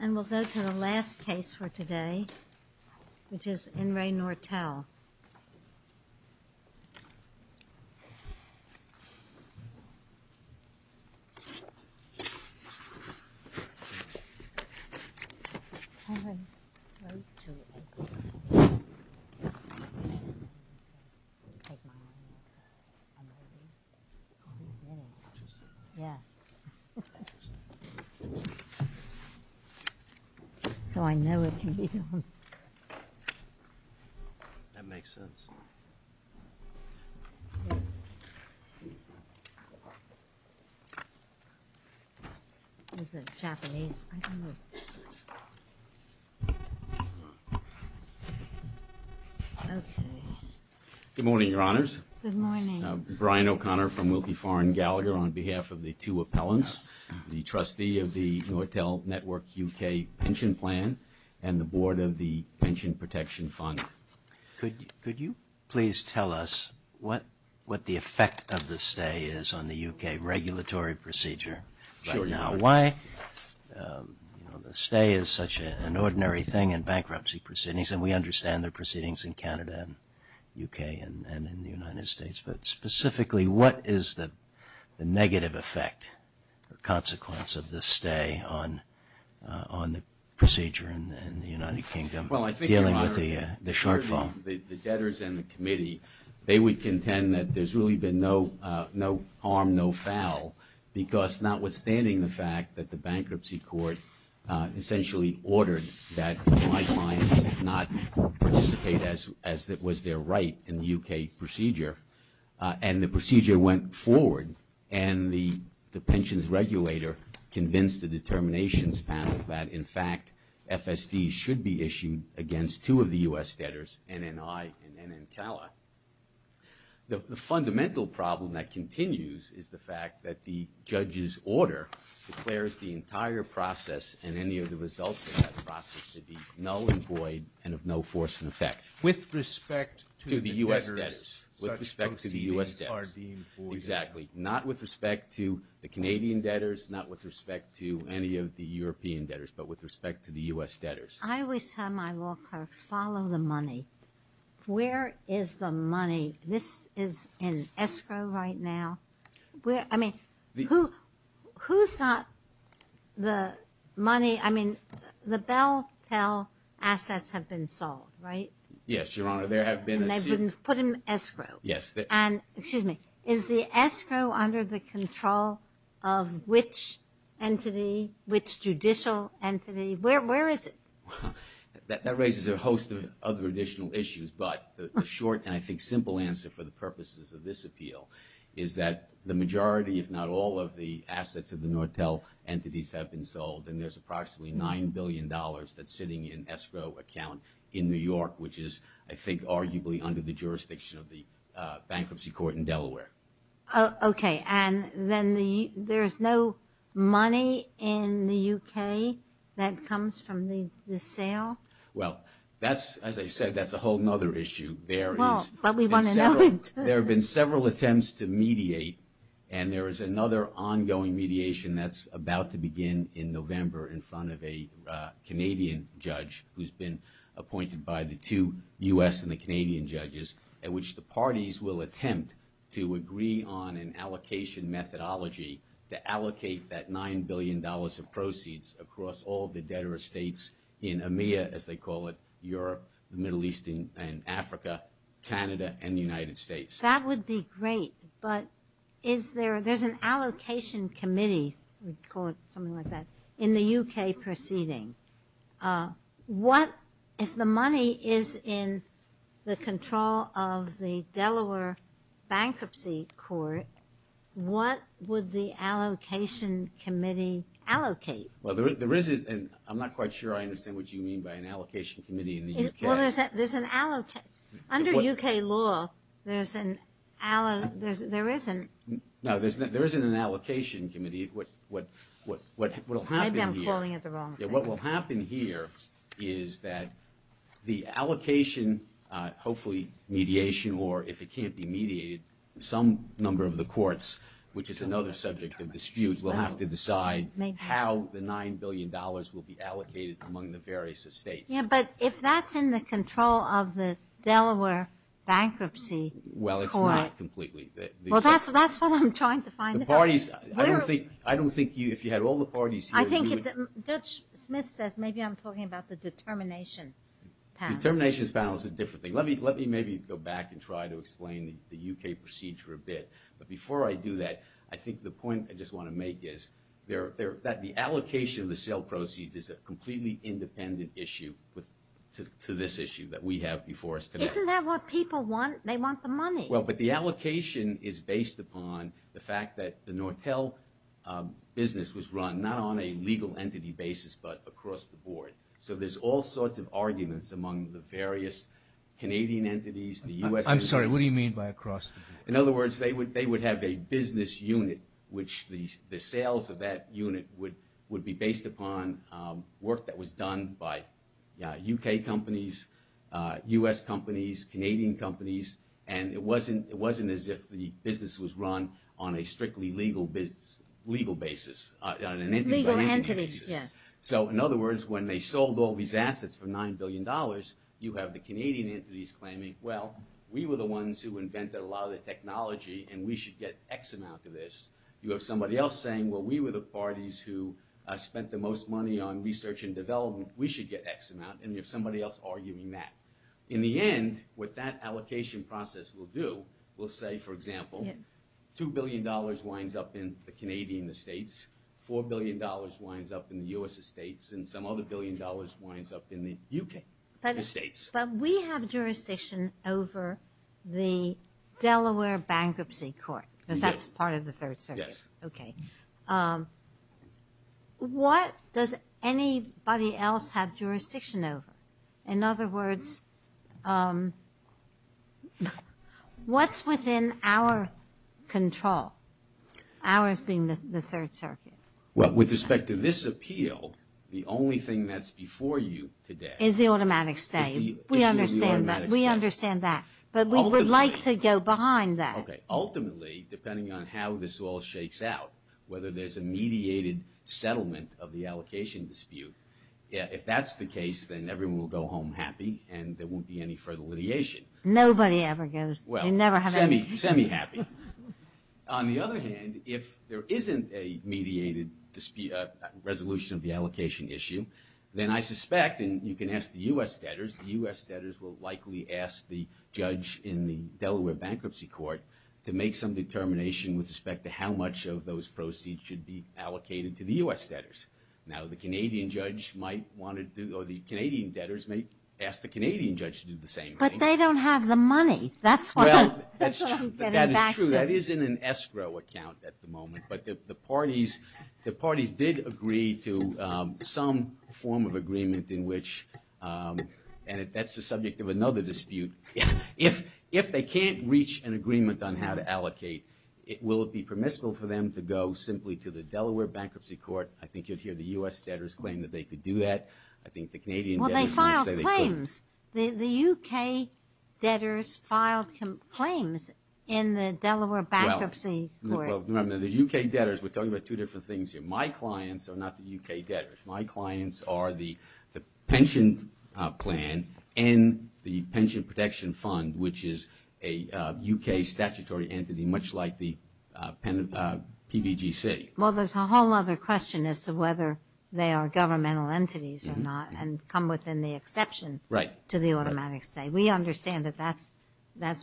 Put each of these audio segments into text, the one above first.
And we'll go to the last case for today, which is In Re Nortel. So I know it can be done. That makes sense. Is it Japanese? Okay. Good morning, Your Honors. Good morning. I'm Brian O'Connor from Wilkie, Farr and Gallagher. On behalf of the two appellants, the trustee of the Nortel Network UK Pension Plan and the board of the Pension Protection Fund, could you please tell us what the effect of the stay is on the UK regulatory procedure right now? Why stay is such an ordinary thing in bankruptcy proceedings, and we understand there are proceedings in Canada and UK and in the United States, but specifically what is the negative effect, the consequence of the stay on the procedure in the United Kingdom, dealing with the shortfall? The debtors and the committee, they would contend that there's really been no harm, no foul, because notwithstanding the fact that the Bankruptcy Court essentially ordered that my clients not participate as was their right in the UK procedure, and the procedure went forward, and the pensions regulator convinced the determinations panel that, in fact, FSD should be issued against two of the U.S. debtors, NNI and NNTELA. The fundamental problem that continues is the fact that the judge's order declares the entire process and any of the results of that process to be null and void and of no force in effect. With respect to the debtors? To the U.S. debtors. With respect to the U.S. debtors. Exactly. Not with respect to the Canadian debtors, not with respect to any of the European debtors, but with respect to the U.S. debtors. I always tell my law clerks, follow the money. Where is the money? This is in escrow right now. I mean, who's got the money? I mean, the Belltel assets have been sold, right? Yes, Your Honor. And they've been put in escrow. Yes. Excuse me. Is the escrow under the control of which entity, which judicial entity? Where is it? That raises a host of other additional issues, but the short and I think simple answer for the purposes of this appeal is that the majority, if not all, of the assets of the Nortel entities have been sold, and there's approximately $9 billion that's sitting in escrow account in New York, which is, I think, arguably under the jurisdiction of the bankruptcy court in Delaware. Okay. And then there's no money in the U.K. that comes from the sale? Well, as I said, that's a whole other issue. There have been several attempts to mediate, and there is another ongoing mediation that's about to begin in November in front of a Canadian judge who's been appointed by the two U.S. and the Canadian judges, at which the parties will attempt to agree on an allocation methodology to allocate that $9 billion of proceeds across all the debtor states in EMEA, as they call it, Europe, the Middle East, and Africa, Canada, and the United States. That would be great, but is there an allocation committee, let's call it something like that, in the U.K. proceeding? If the money is in the control of the Delaware bankruptcy court, what would the allocation committee allocate? I'm not quite sure I understand what you mean by an allocation committee in the U.K. Under U.K. law, there isn't. No, there isn't an allocation committee. Maybe I'm calling it the wrong thing. What will happen here is that the allocation, hopefully mediation, or if it can't be mediated, some number of the courts, which is another subject of dispute, will have to decide how the $9 billion will be allocated among the various states. But if that's in the control of the Delaware bankruptcy court, Well, it's not completely. Well, that's what I'm trying to find out. The parties, I don't think you, if you had all the parties here, I think Judge Smith says maybe I'm talking about the determination panel. The determination panel is a different thing. Let me maybe go back and try to explain the U.K. procedure a bit. But before I do that, I think the point I just want to make is that the allocation of the sale proceeds is a completely independent issue to this issue that we have before us today. Isn't that what people want? They want the money. Well, but the allocation is based upon the fact that the Nortel business was run, not on a legal entity basis, but across the board. So there's all sorts of arguments among the various Canadian entities, the U.S. I'm sorry, what do you mean by across? In other words, they would have a business unit, which the sales of that unit would be based upon work that was done by U.K. companies, U.S. companies, Canadian companies, and it wasn't as if the business was run on a strictly legal basis. Legal entities, yes. So in other words, when they sold all these assets for $9 billion, you have the Canadian entities claiming, well, we were the ones who invented a lot of the technology, and we should get X amount of this. You have somebody else saying, well, we were the parties who spent the most money on research and development. We should get X amount, and there's somebody else arguing that. In the end, what that allocation process will do, we'll say, for example, $2 billion winds up in the Canadian estates, $4 billion winds up in the U.S. estates, and some other billion dollars winds up in the U.K. estates. But we have jurisdiction over the Delaware Bankruptcy Court, because that's part of the Third Circuit. Yes. Okay. What does anybody else have jurisdiction over? In other words, what's within our control? Ours being the Third Circuit. Well, with respect to this appeal, the only thing that's before you today— Is the automatic stay. We understand that. We understand that. But we would like to go behind that. Okay. Ultimately, depending on how this all shakes out, whether there's a mediated settlement of the allocation dispute, if that's the case, then everyone will go home happy, and there won't be any further litigation. Nobody ever goes. Well, semi-happy. On the other hand, if there isn't a mediated resolution of the allocation issue, then I suspect, and you can ask the U.S. debtors, the U.S. debtors will likely ask the judge in the Delaware Bankruptcy Court to make some determination with respect to how much of those proceeds should be allocated to the U.S. debtors. Now, the Canadian judge might want to do— or the Canadian debtors may ask the Canadian judge to do the same thing. But they don't have the money. That's what I'm getting back to. That is true. That is in an escrow account at the moment. But the parties did agree to some form of agreement in which— and that's the subject of another dispute. If they can't reach an agreement on how to allocate, will it be permissible for them to go simply to the Delaware Bankruptcy Court? I think you'll hear the U.S. debtors claim that they could do that. I think the Canadian debtors— Well, they filed claims. The U.K. debtors filed claims in the Delaware Bankruptcy Court. Well, the U.K. debtors, we're talking about two different things here. My clients are not the U.K. debtors. My clients are the pension plan and the Pension Protection Fund, which is a U.K. statutory entity much like the PDGC. Well, there's a whole other question as to whether they are governmental entities or not and come within the exception to the automatic claim. We understand that that's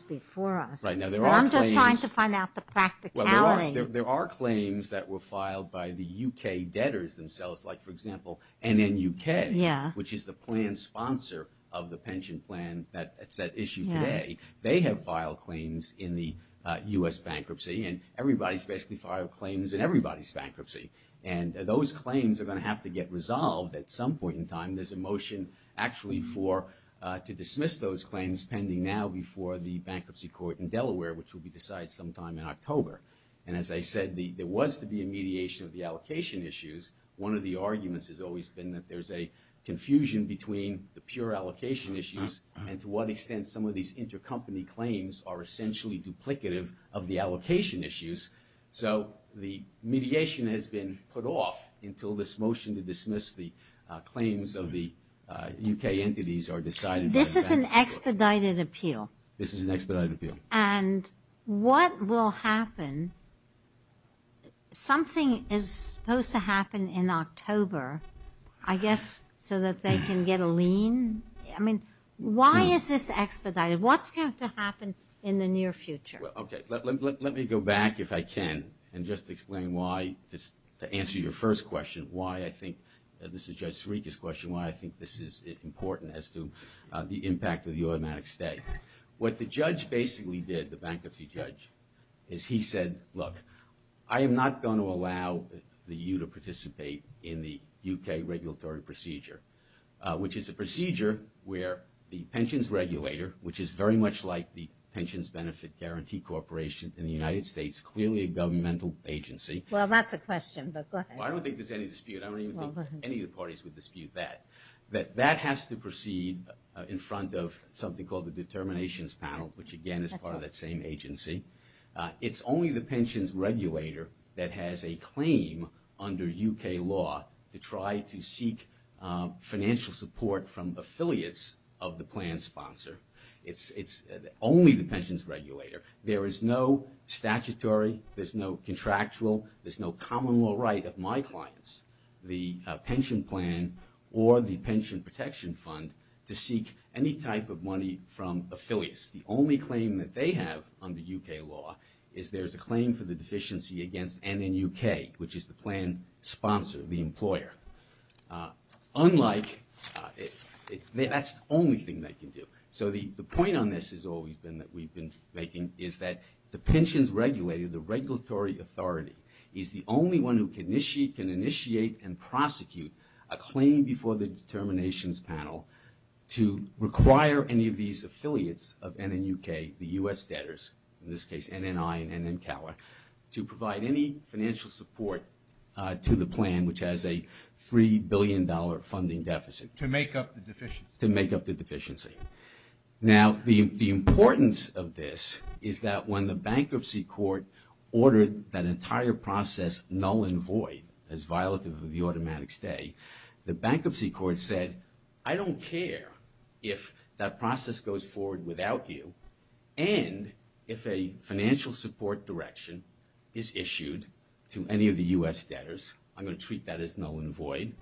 before us. I'm just trying to find out the practicality. There are claims that were filed by the U.K. debtors themselves, like, for example, NNUK, which is the plan sponsor of the pension plan that's at issue today. They have filed claims in the U.S. bankruptcy, and everybody's basically filed claims in everybody's bankruptcy. And those claims are going to have to get resolved at some point in time. There's a motion actually to dismiss those claims pending now before the bankruptcy court in Delaware, which will be decided sometime in October. And as I said, there was to be a mediation of the allocation issues. One of the arguments has always been that there's a confusion between the pure allocation issues and to what extent some of these intercompany claims are essentially duplicative of the allocation issues. So the mediation has been put off until this motion to dismiss the claims of the U.K. entities are decided. This is an expedited appeal. This is an expedited appeal. And what will happen, something is supposed to happen in October, I guess, so that they can get a lien. I mean, why is this expedited? What's going to happen in the near future? Okay. Let me go back, if I can, and just explain why, to answer your first question, why I think, and this is Judge Sirica's question, why I think this is important as to the impact of the automatic stay. What the judge basically did, the bankruptcy judge, is he said, look, I am not going to allow you to participate in the U.K. regulatory procedure, which is a procedure where the pensions regulator, which is very much like the Pensions Benefit Guarantee Corporation in the United States, clearly a governmental agency. Well, that's a question, but go ahead. I don't think there's any dispute. I don't think any of the parties would dispute that. That has to proceed in front of something called the determinations panel, which, again, is part of that same agency. It's only the pensions regulator that has a claim under U.K. law to try to seek financial support from affiliates of the plan sponsor. It's only the pensions regulator. There is no statutory, there's no contractual, there's no common law right of my clients, the pension plan or the pension protection fund, to seek any type of money from affiliates. The only claim that they have under U.K. law is there's a claim for the deficiency against NNUK, which is the plan sponsor, the employer. That's the only thing they can do. So the point on this is that the pensions regulator, the regulatory authority, is the only one who can initiate and prosecute a claim before the determinations panel to require any of these affiliates of NNUK, the U.S. debtors, in this case NNI and NNCALA, to provide any financial support to the plan, which has a $3 billion funding deficit. To make up the deficiency. To make up the deficiency. Now, the importance of this is that when the bankruptcy court ordered that entire process null and void, as violative of the automatic stay, the bankruptcy court said, I don't care if that process goes forward without you and if a financial support direction is issued to any of the U.S. debtors. I'm going to treat that as null and void.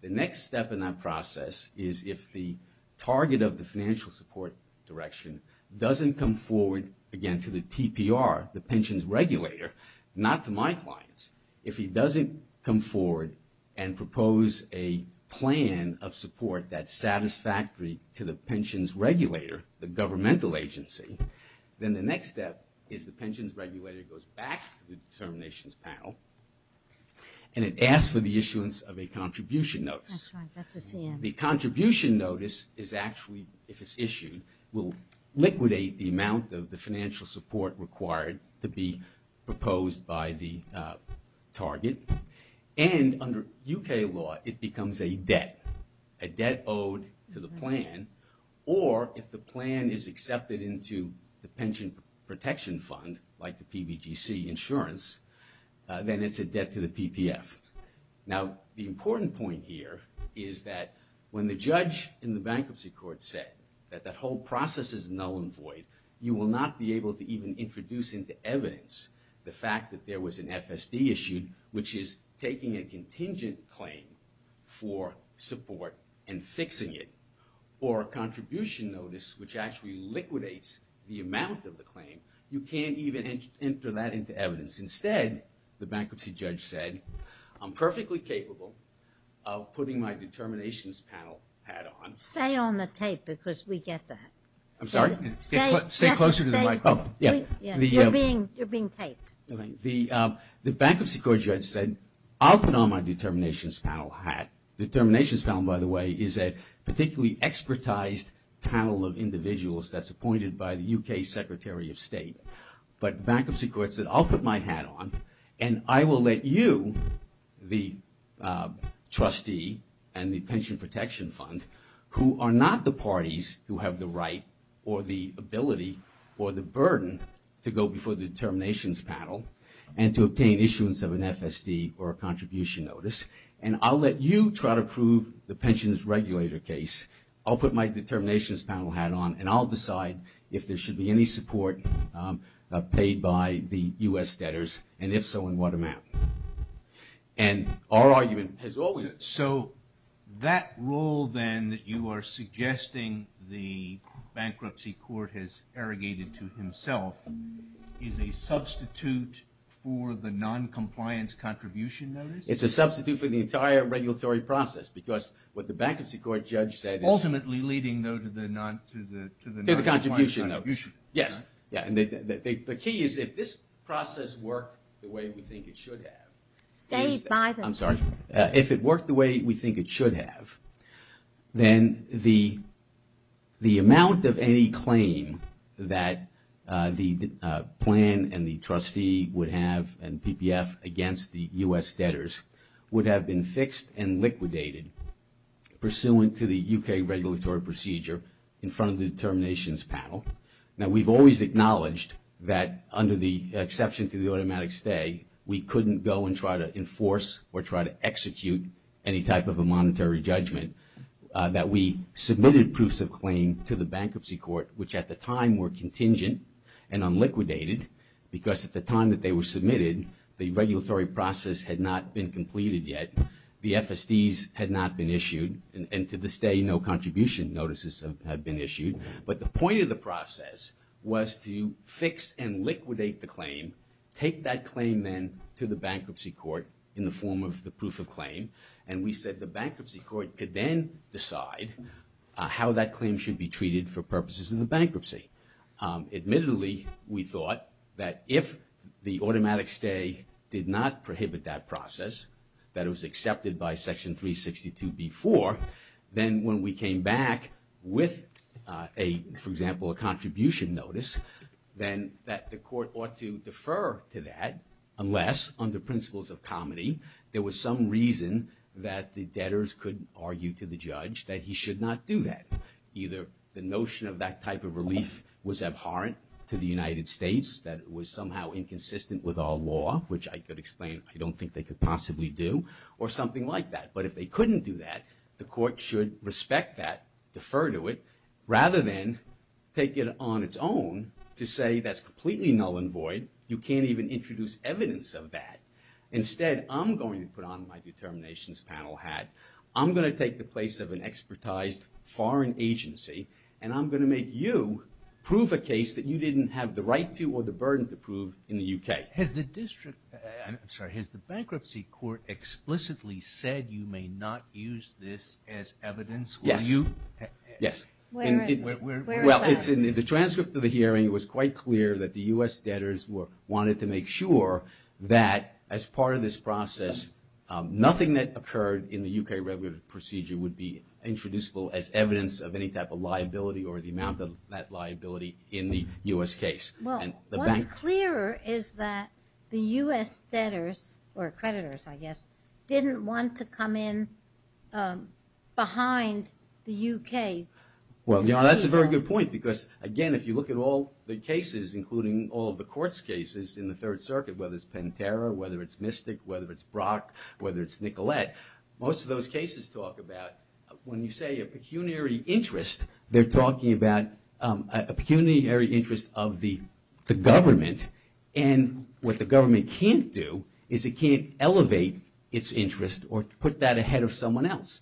The next step in that process is if the target of the financial support direction doesn't come forward, again, to the TPR, the pensions regulator, not to my clients. If he doesn't come forward and propose a plan of support that's satisfactory to the pensions regulator, the governmental agency, then the next step is the pensions regulator goes back to the determinations panel and it asks for the issuance of a contribution notice. The contribution notice is actually, if it's issued, will liquidate the amount of the financial support required to be proposed by the target. And under U.K. law, it becomes a debt, a debt owed to the plan, or if the plan is accepted into the pension protection fund, like the PBGC insurance, then it's a debt to the PPF. Now, the important point here is that when the judge in the bankruptcy court said that the whole process is null and void, you will not be able to even introduce into evidence the fact that there was an FSD issued, which is taking a contingent claim for support and fixing it, or a contribution notice which actually liquidates the amount of the claim. You can't even enter that into evidence. Instead, the bankruptcy judge said, I'm perfectly capable of putting my determinations panel hat on. Stay on the tape because we get that. I'm sorry? Stay closer to the microphone. You're being taped. The bankruptcy court judge said, I'll put on my determinations panel hat. Determinations panel, by the way, is a particularly expertized panel of individuals that's appointed by the U.K. Secretary of State. But the bankruptcy court said, I'll put my hat on, and I will let you, the trustee and the pension protection fund, who are not the parties who have the right or the ability or the burden to go before the determinations panel and to obtain issuance of an FSD or a contribution notice, and I'll let you try to prove the pensions regulator case. I'll put my determinations panel hat on, and I'll decide if there should be any support paid by the U.S. debtors, and if so, in what amount. And our argument is always that. So that rule then that you are suggesting the bankruptcy court has arrogated to himself is a substitute for the noncompliance contribution notice? It's a substitute for the entire regulatory process because what the bankruptcy court judge said- Ultimately leading, though, to the noncompliance contribution. Yes. The key is if this process worked the way we think it should have- Paid by the- I'm sorry. If it worked the way we think it should have, then the amount of any claim that the plan and the trustee would have and PPF against the U.S. debtors would have been fixed and liquidated pursuant to the U.K. regulatory procedure in front of the determinations panel. Now, we've always acknowledged that under the exception to the automatic stay, we couldn't go and try to enforce or try to execute any type of a monetary judgment, that we submitted proofs of claim to the bankruptcy court, which at the time were contingent and unliquidated because at the time that they were submitted, the regulatory process had not been completed yet, the FSDs had not been issued, and to this day no contribution notices have been issued. But the point of the process was to fix and liquidate the claim, take that claim then to the bankruptcy court in the form of the proof of claim, and we said the bankruptcy court could then decide how that claim should be treated for purposes in the bankruptcy. Admittedly, we thought that if the automatic stay did not prohibit that process, that it was accepted by Section 362b-4, then when we came back with a, for example, a contribution notice, then that the court ought to defer to that unless under principles of comedy, there was some reason that the debtors could argue to the judge that he should not do that. Either the notion of that type of relief was abhorrent to the United States, that it was somehow inconsistent with our law, which I could explain, I don't think they could possibly do, or something like that. But if they couldn't do that, the court should respect that, defer to it, rather than take it on its own to say that's completely null and void, you can't even introduce evidence of that. Instead, I'm going to put on my determinations panel hat. I'm going to take the place of an expertized foreign agency, and I'm going to make you prove a case that you didn't have the right to or the burden to prove in the U.K. Has the district, I'm sorry, has the bankruptcy court explicitly said you may not use this as evidence? Yes, yes. Well, the transcript of the hearing was quite clear that the U.S. debtors wanted to make sure that as part of this process, nothing that occurred in the U.K. revenue procedure would be introducible as evidence of any type of liability or the amount of that liability in the U.S. case. Well, what's clearer is that the U.S. debtors, or creditors, I guess, didn't want to come in behind the U.K. Well, that's a very good point because, again, if you look at all the cases, including all the court's cases in the Third Circuit, whether it's Pantera, whether it's Mystic, whether it's Brock, whether it's Nicolette, most of those cases talk about, when you say a pecuniary interest, they're talking about a pecuniary interest of the government, and what the government can't do is it can't elevate its interest or put that ahead of someone else.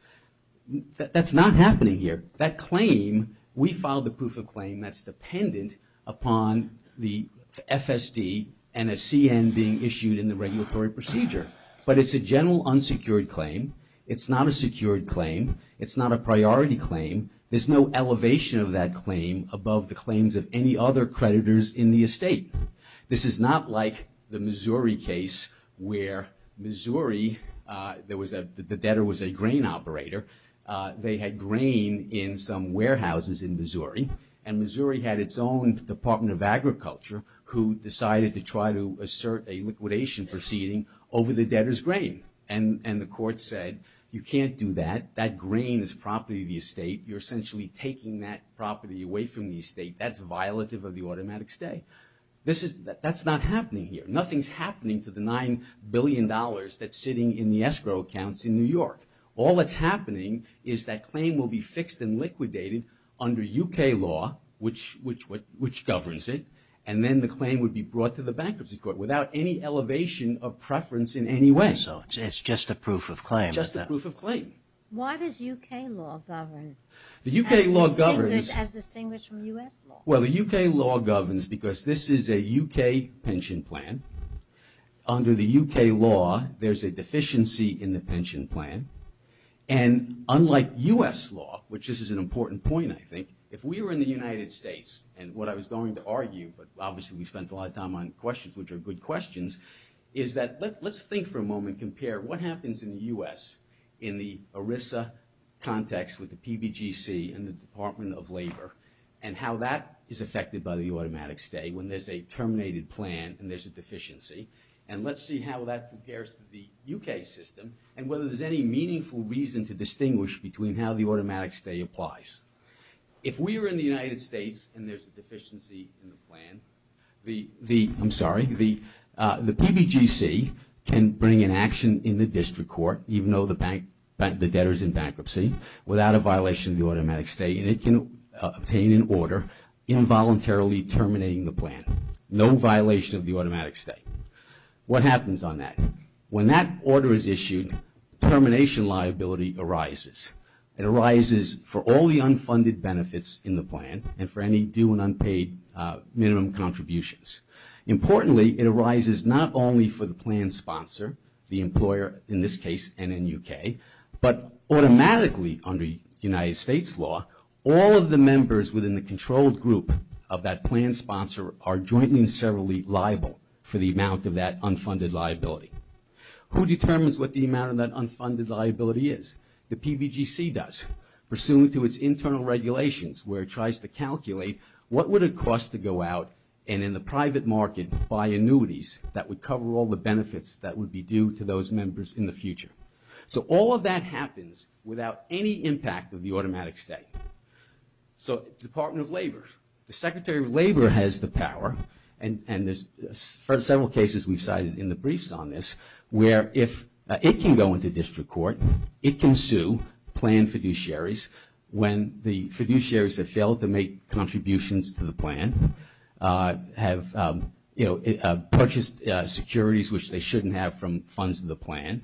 That's not happening here. That claim, we filed a proof of claim that's dependent upon the FSD and a CN being issued in the regulatory procedure. But it's a general unsecured claim. It's not a secured claim. It's not a priority claim. There's no elevation of that claim above the claims of any other creditors in the estate. This is not like the Missouri case where Missouri, the debtor was a grain operator. They had grain in some warehouses in Missouri, and Missouri had its own Department of Agriculture who decided to try to assert a liquidation proceeding over the debtor's grain. And the court said, you can't do that. That grain is property of the estate. You're essentially taking that property away from the estate. That's violative of the automatic stay. That's not happening here. Nothing's happening to the $9 billion that's sitting in the escrow accounts in New York. All that's happening is that claim will be fixed and liquidated under U.K. law, which governs it, and then the claim would be brought to the Bankruptcy Court without any elevation of preference in any way. So it's just a proof of claim. Just a proof of claim. Why does U.K. law govern? The U.K. law governs. Has it distinguished from U.S. law? Well, the U.K. law governs because this is a U.K. pension plan. Under the U.K. law, there's a deficiency in the pension plan. And unlike U.S. law, which this is an important point, I think, if we were in the United States, and what I was going to argue, but obviously we spent a lot of time on questions which are good questions, is that let's think for a moment, compare what happens in the U.S. in the ERISA context with the PBGC and the Department of Labor and how that is affected by the automatic stay when there's a terminated plan and there's a deficiency, and let's see how that compares to the U.K. system and whether there's any meaningful reason to distinguish between how the automatic stay applies. If we were in the United States and there's a deficiency in the plan, the PBGC can bring an action in the district court, even though the debtor's in bankruptcy, without a violation of the automatic stay, and it can obtain an order involuntarily terminating the plan. No violation of the automatic stay. What happens on that? When that order is issued, termination liability arises. It arises for all the unfunded benefits in the plan and for any due and unpaid minimum contributions. Importantly, it arises not only for the plan sponsor, the employer in this case and in U.K., but automatically under United States law, all of the members within the controlled group of that plan sponsor are jointly and severally liable for the amount of that unfunded liability. Who determines what the amount of that unfunded liability is? The PBGC does. Pursuant to its internal regulations where it tries to calculate what would it cost to go out and in the private market buy annuities that would cover all the benefits that would be due to those members in the future. So all of that happens without any impact of the automatic stay. So Department of Labor. The Secretary of Labor has the power, and there's several cases we cited in the briefs on this, where if it can go into district court, it can sue planned fiduciaries when the fiduciaries have failed to make contributions to the plan, have purchased securities which they shouldn't have from funds of the plan,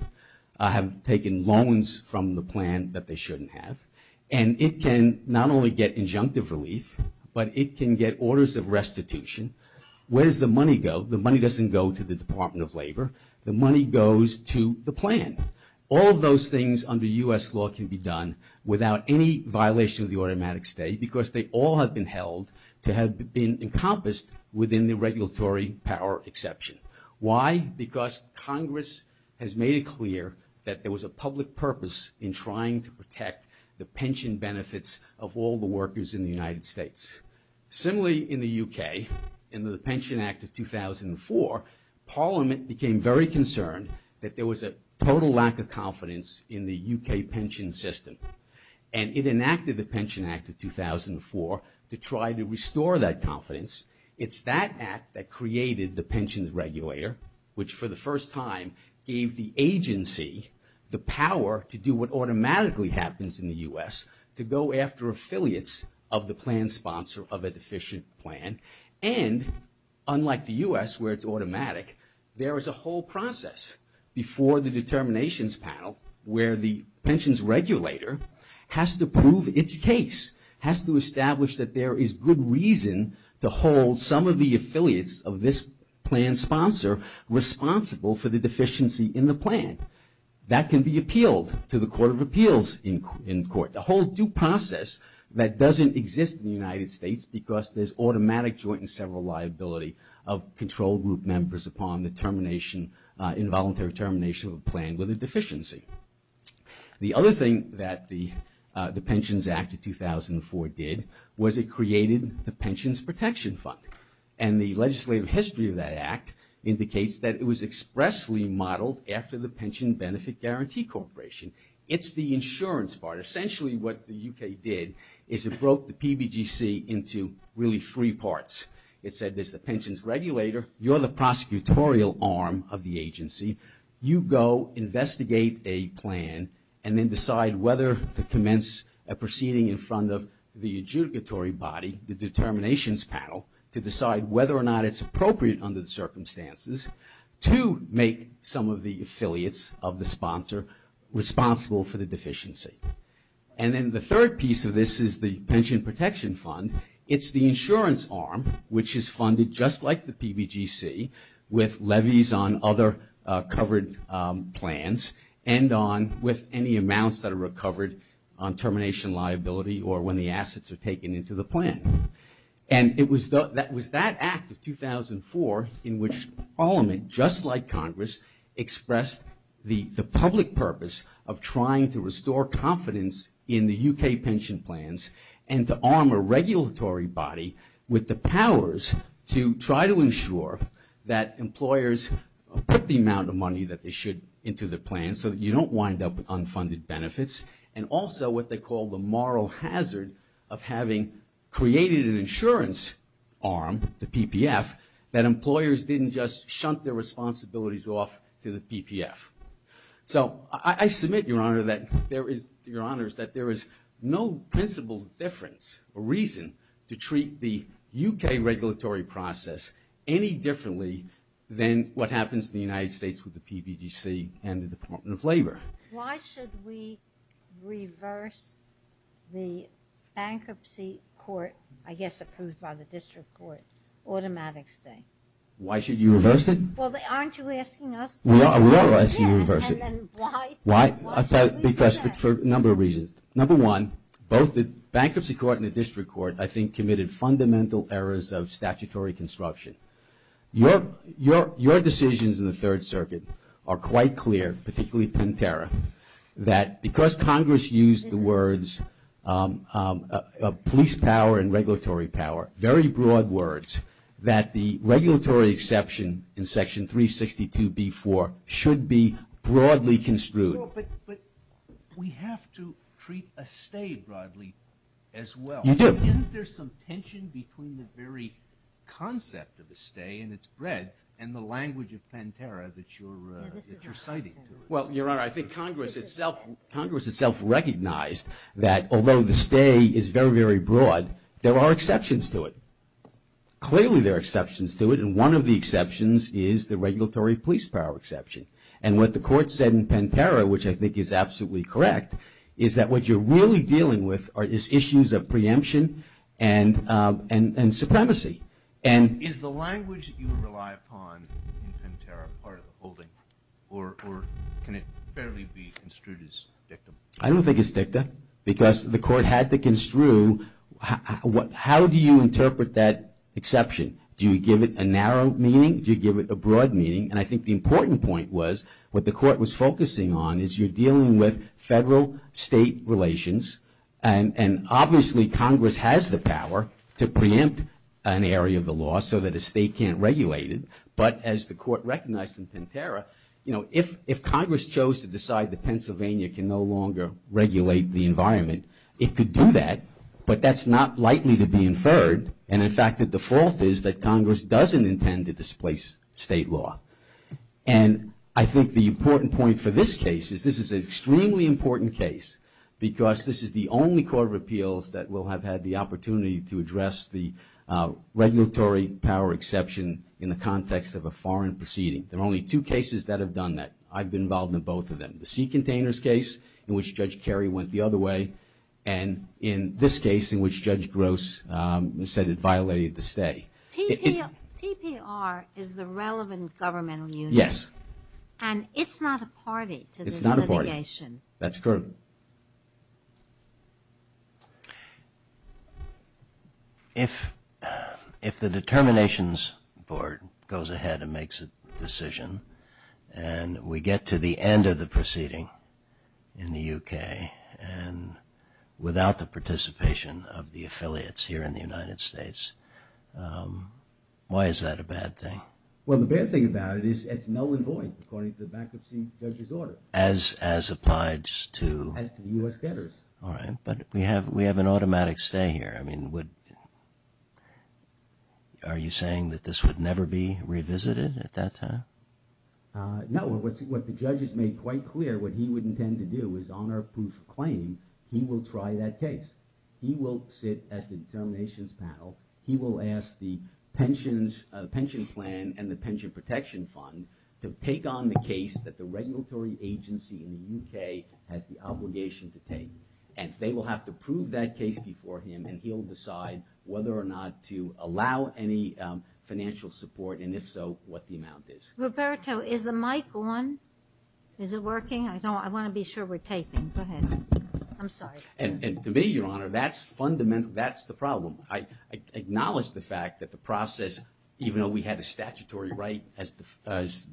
have taken loans from the plan that they shouldn't have, and it can not only get injunctive relief, but it can get orders of restitution. Where does the money go? The money doesn't go to the Department of Labor. The money goes to the plan. All of those things under U.S. law can be done without any violation of the automatic stay because they all have been held to have been encompassed within the regulatory power exception. Why? Because Congress has made it clear that there was a public purpose in trying to protect the pension benefits of all the workers in the United States. Similarly, in the U.K., in the Pension Act of 2004, Parliament became very concerned that there was a total lack of confidence in the U.K. pension system, and it enacted the Pension Act of 2004 to try to restore that confidence. It's that act that created the pensions regulator, which for the first time gave the agency the power to do what automatically happens in the U.S., to go after affiliates of the plan sponsor of a deficient plan, and unlike the U.S. where it's automatic, there is a whole process before the determinations panel where the pensions regulator has to prove its case, has to establish that there is good reason to hold some of the affiliates of this plan sponsor responsible for the deficiency in the plan. That can be appealed to the Court of Appeals in court. The whole due process that doesn't exist in the United States because there's automatic joint and several liability of control group members upon the involuntary termination of a plan with a deficiency. The other thing that the Pensions Act of 2004 did was it created the Pensions Protection Fund, and the legislative history of that act indicates that it was expressly modeled after the Pension Benefit Guarantee Corporation. It's the insurance part. But essentially what the U.K. did is it broke the PBGC into really three parts. It said there's the pensions regulator, you're the prosecutorial arm of the agency, you go investigate a plan and then decide whether to commence a proceeding in front of the adjudicatory body, the determinations panel, to decide whether or not it's appropriate under the circumstances to make some of the affiliates of the sponsor responsible for the deficiency. And then the third piece of this is the Pension Protection Fund. It's the insurance arm which is funded just like the PBGC with levies on other covered plans and on with any amounts that are recovered on termination liability or when the assets are taken into the plan. And it was that act of 2004 in which Parliament, just like Congress, expressed the public purpose of trying to restore confidence in the U.K. pension plans and to arm a regulatory body with the powers to try to ensure that employers put the amount of money that they should into the plan so that you don't wind up with unfunded benefits and also what they call the moral hazard of having created an insurance arm, the PPF, that employers didn't just shunt their responsibilities off to the PPF. So I submit, Your Honor, that there is no principle difference or reason to treat the U.K. regulatory process any differently than what happens in the United States with the PBGC and the Department of Labor. Why should we reverse the bankruptcy court, I guess it comes by the district court, automatic thing? Why should you reverse it? Well, aren't you asking us? We are asking you to reverse it. And then why? Why? Because for a number of reasons. Number one, both the bankruptcy court and the district court, I think, committed fundamental errors of statutory construction. Your decisions in the Third Circuit are quite clear, particularly Pinterra, that because Congress used the words police power and regulatory power, very broad words, that the regulatory exception in Section 362b-4 should be broadly construed. But we have to treat a stay broadly as well. You do. Isn't there some tension between the very concept of a stay and its breadth and the language of Pinterra that you're citing? Well, Your Honor, I think Congress itself recognized that although the stay is very, very broad, there are exceptions to it. Clearly there are exceptions to it, and one of the exceptions is the regulatory police power exception. And what the court said in Pinterra, which I think is absolutely correct, is that what you're really dealing with is issues of preemption and supremacy. Is the language that you rely upon in Pinterra part of the holding, or can it fairly be construed as dicta? I don't think it's dicta because the court had to construe how do you interpret that exception. Do you give it a narrow meaning? Do you give it a broad meaning? And I think the important point was what the court was focusing on is you're dealing with federal-state relations, and obviously Congress has the power to preempt an area of the law so that a state can't regulate it, but as the court recognized in Pinterra, you know, if Congress chose to decide that Pennsylvania can no longer regulate the environment, it could do that, but that's not likely to be inferred, and in fact the default is that Congress doesn't intend to displace state law. And I think the important point for this case is this is an extremely important case because this is the only court of appeals that will have had the opportunity to address the regulatory power exception in the context of a foreign proceeding. There are only two cases that have done that. I've been involved in both of them, the sea containers case in which Judge Kerry went the other way, and in this case in which Judge Gross said it violated the state. PPR is the relevant governmental unit. Yes. And it's not a party to the litigation. It's not a party. That's true. If the determinations board goes ahead and makes a decision, and we get to the end of the proceeding in the U.K. and without the participation of the affiliates here in the United States, why is that a bad thing? Well, the bad thing about it is it's null and void according to the bankruptcy judge's order. As applies to... As to the U.S. debtors. All right, but we have an automatic stay here. I mean, are you saying that this would never be revisited at that time? No, what the judge has made quite clear what he would intend to do is honor a proof of claim. He will try that case. He will sit at the determinations panel. He will ask the pension plan and the pension protection fund to take on the case that the regulatory agency in the U.K. has the obligation to take, and they will have to prove that case before him, and he'll decide whether or not to allow any financial support, and if so, what the amount is. Roberto, is the mic on? Is it working? I want to be sure we're taping. Go ahead. I'm sorry. And to me, Your Honor, that's the problem. I acknowledge the fact that the process, even though we had a statutory right as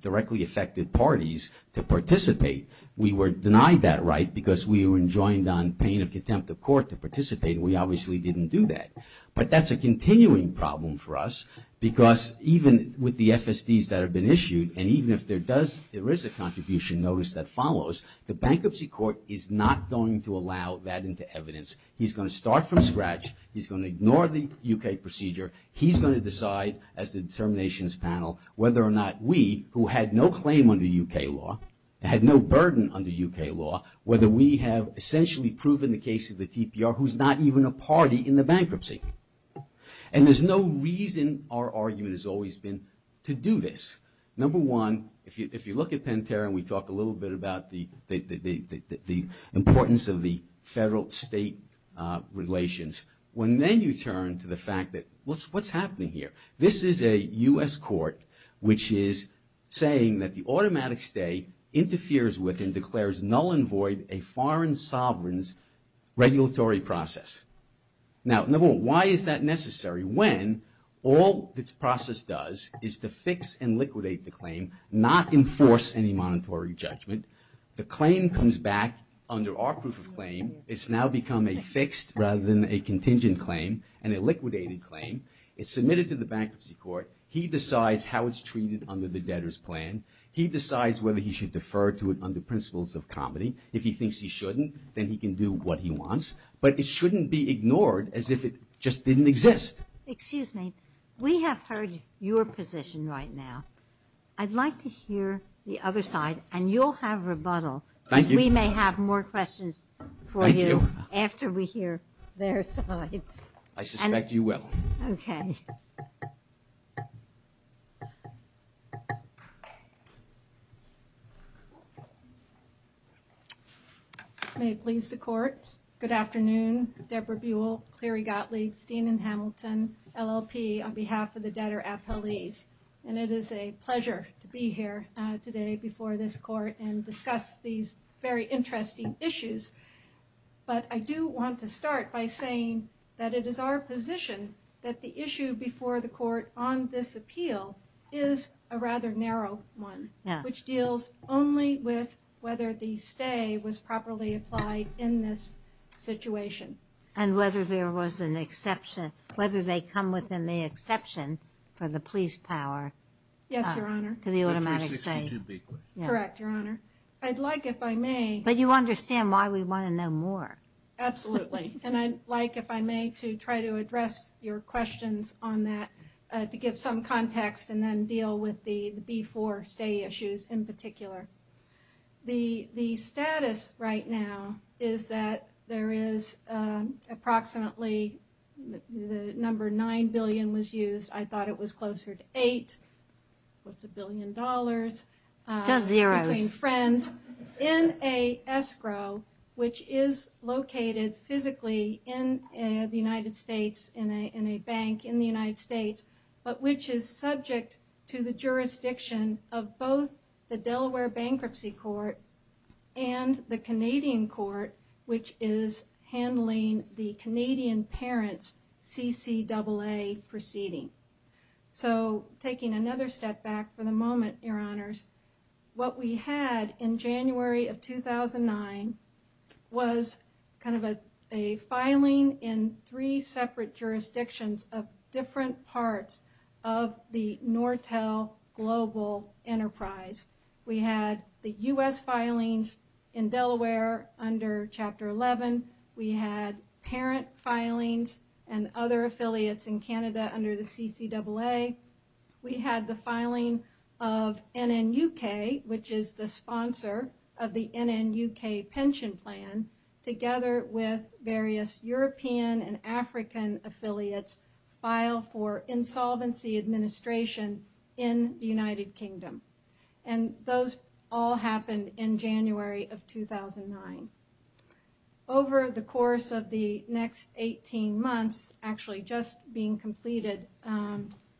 directly affected parties to participate, we were denied that right because we were enjoined on pain of contempt of court to participate, and we obviously didn't do that, but that's a continuing problem for us because even with the FSDs that have been issued, and even if there is a contribution notice that follows, the bankruptcy court is not going to allow that into evidence. He's going to start from scratch. He's going to ignore the U.K. procedure. He's going to decide as the determinations panel whether or not we, who had no claim under U.K. law, had no burden under U.K. law, whether we have essentially proven the case of the TPR who's not even a party in the bankruptcy. And there's no reason, our argument has always been, to do this. Number one, if you look at Penn-Tarrant, we talked a little bit about the importance of the federal-state relations. When then you turn to the fact that what's happening here? This is a U.S. court which is saying that the automatic stay interferes with and declares null and void a foreign sovereign's regulatory process. Now, number one, why is that necessary? When all this process does is to fix and liquidate the claim, not enforce any monetary judgment. The claim comes back under our proof of claim. It's now become a fixed rather than a contingent claim and a liquidated claim. It's submitted to the bankruptcy court. He decides how it's treated under the debtor's plan. He decides whether he should defer to it under principles of comedy. If he thinks he shouldn't, then he can do what he wants. But it shouldn't be ignored as if it just didn't exist. Excuse me. We have heard your position right now. I'd like to hear the other side, and you'll have rebuttal. We may have more questions for you after we hear their side. I suspect you will. Okay. May it please the Court. Good afternoon. Debra Buell, Clary Gottlieb, Stephen Hamilton, LLP on behalf of the Debtor's Appeals. And it is a pleasure to be here today before this Court and discuss these very interesting issues. But I do want to start by saying that it is our position that the issue before the Court on this appeal is a rather narrow one. Yes. Which deals only with whether the stay was properly applied in this situation. And whether there was an exception, whether they come within the exception for the police power. Yes, Your Honor. For the automatic stay. Correct, Your Honor. I'd like, if I may. But you understand why we want to know more. Absolutely. And I'd like, if I may, to try to address your questions on that, to give some context and then deal with the B4 stay issues in particular. The status right now is that there is approximately the number 9 billion was used. I thought it was closer to 8. Close to a billion dollars. Not zero. Between friends in a escrow, which is located physically in the United States, in a bank in the United States, but which is subject to the jurisdiction of both the Delaware Bankruptcy Court and the Canadian Court, which is handling the Canadian parents CCAA proceeding. And so, in the last couple of years, what we had in January of 2009 was kind of a filing in three separate jurisdictions of different parts of the Nortel Global Enterprise. We had the U.S. filings in Delaware under Chapter 11. We had parent filings and other affiliates in Canada under the CCAA. We had the filing of NNUK, which is the sponsor of the NNUK pension plan, together with various European and African affiliates, filed for insolvency administration in the United Kingdom. And those all happened in January of 2009. Over the course of the next 18 months, actually just being completed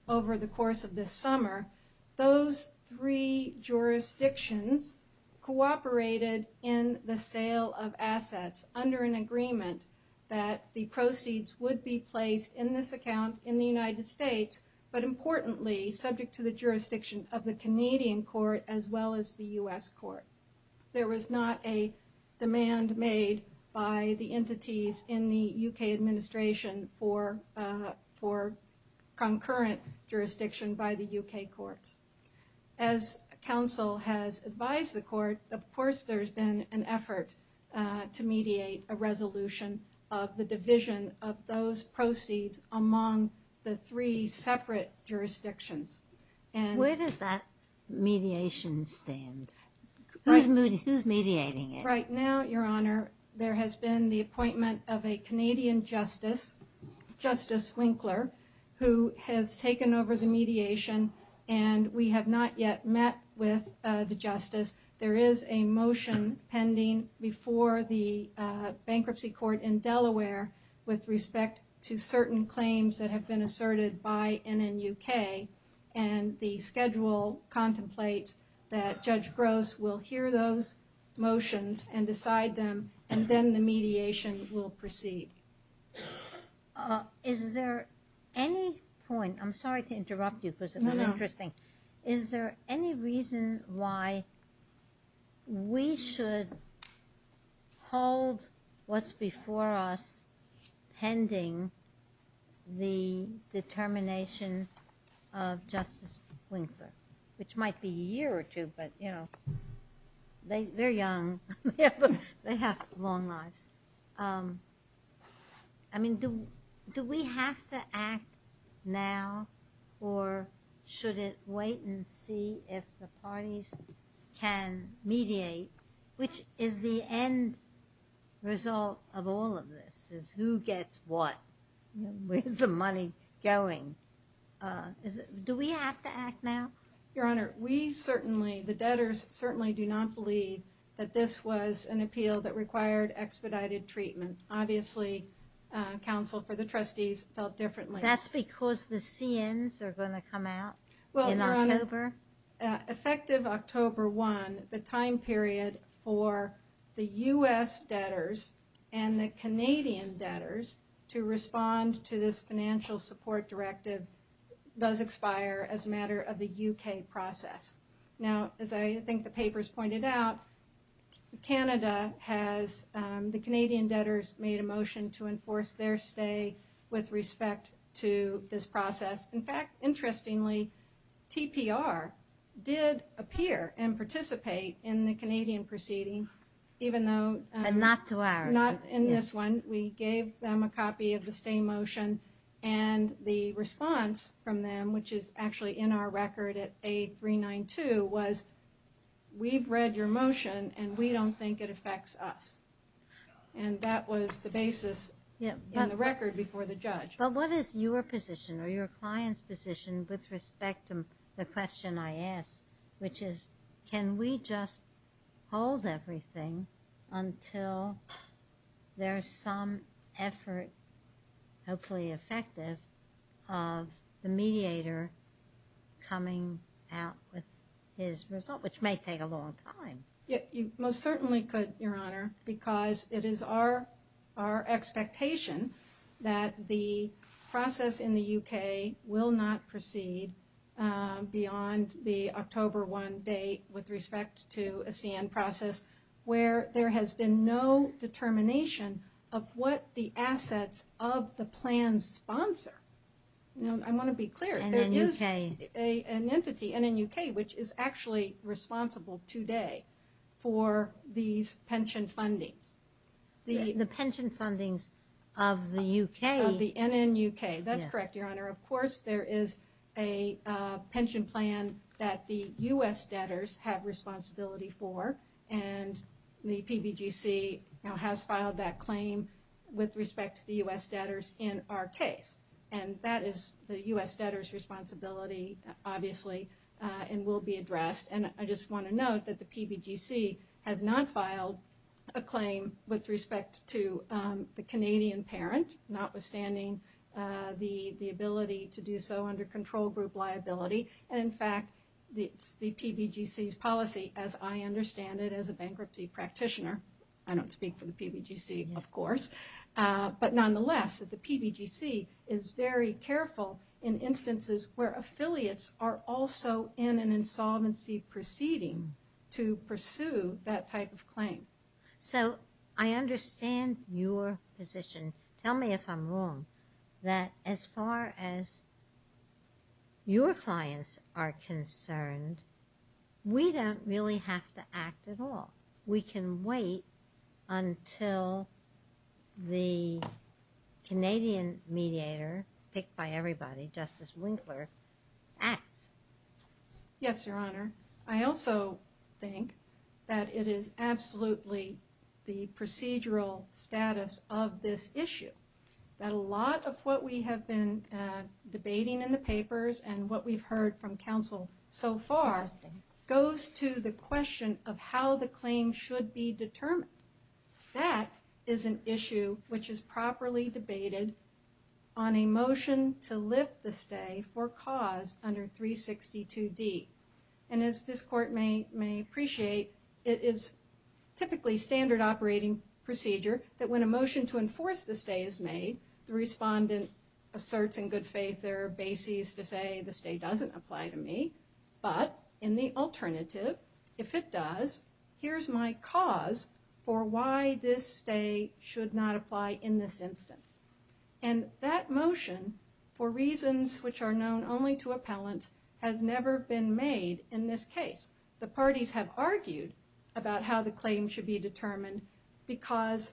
over the course of this summer, those three jurisdictions cooperated in the sale of assets under an agreement that the proceeds would be placed in this account in the United States, but importantly, subject to the jurisdiction of the Canadian Court as well as the U.S. Court. There was not a demand made by the entities in the U.K. administration for concurrent jurisdiction by the U.K. Court. As Council has advised the Court, of course there's been an effort to mediate a resolution of the division of those proceeds among the three separate jurisdictions. Where does that mediation stand? Who's mediating it? Right now, Your Honor, there has been the appointment of a Canadian justice, Justice Winkler, who has taken over the mediation, and we have not yet met with the justice. There is a motion pending before the bankruptcy court in Delaware with respect to certain claims that have been asserted by NNUK, and the schedule contemplates that Judge Gross will hear those motions and decide them, and then the mediation will proceed. Is there any point? I'm sorry to interrupt you, but this is interesting. Is there any reason why we should hold what's before us pending the determination of Justice Winkler, which might be a year or two, but, you know, they're young. They have a long life. I mean, do we have to act now, or should it wait and see if the parties can mediate, which is the end result of all of this, is who gets what. Where's the money going? Do we have to act now? Your Honor, we certainly, the debtors certainly do not believe that this was an appeal that required expedited treatment. Obviously, counsel for the trustees felt differently. That's because the SINs are going to come out in October? Effective October 1, the time period for the U.S. debtors and the Canadian debtors to respond to this financial support directive does expire as a matter of the U.K. process. Now, as I think the paper has pointed out, Canada has, the Canadian debtors made a motion to enforce their stay with respect to this process. In fact, interestingly, TPR did appear and participate in the Canadian proceeding, even though not in this one. We gave them a copy of the same motion, and the response from them, which is actually in our record at A392, was, we've read your motion and we don't think it affects us. And that was the basis in the record before the judge. But what is your position or your client's position with respect to the question I asked, which is, can we just hold everything until there's some effort, hopefully effective, of the mediator coming out with his result, which may take a long time? You most certainly could, Your Honor, because it is our expectation that the process in the U.K. will not proceed beyond the October 1 date with respect to a SIN process where there has been no determination of what the assets of the plan sponsor. I want to be clear. It is an entity, NNUK, which is actually responsible today for these pension fundings. The pension fundings of the U.K.? Of the NNUK, that's correct, Your Honor. Of course there is a pension plan that the U.S. debtors have responsibility for, and the PBGC has filed that claim with respect to the U.S. debtors in our case. And that is the U.S. debtors' responsibility, obviously, and will be addressed. And I just want to note that the PBGC has not filed a claim with respect to the Canadian parent, notwithstanding the ability to do so under control group liability. In fact, the PBGC's policy, as I understand it as a bankruptcy practitioner, I don't speak for the PBGC, of course, but nonetheless, the PBGC is very careful in instances where affiliates are also in an insolvency proceeding to pursue that type of claim. So I understand your position. And tell me if I'm wrong, that as far as your clients are concerned, we don't really have to act at all. We can wait until the Canadian mediator, picked by everybody, Justice Winkler, acts. Yes, Your Honor. I also think that it is absolutely the procedural status of this issue, that a lot of what we have been debating in the papers and what we've heard from counsel so far goes to the question of how the claim should be determined. That is an issue which is properly debated on a motion to lift the stay for cause under 362D. And as this Court may appreciate, it is typically standard operating procedure that when a motion to enforce the stay is made, the respondent asserts in good faith there are bases to say the stay doesn't apply to me, but in the alternative, if it does, here's my cause for why this stay should not apply in this instance. And that motion, for reasons which are known only to appellants, has never been made in this case. The parties have argued about how the claim should be determined because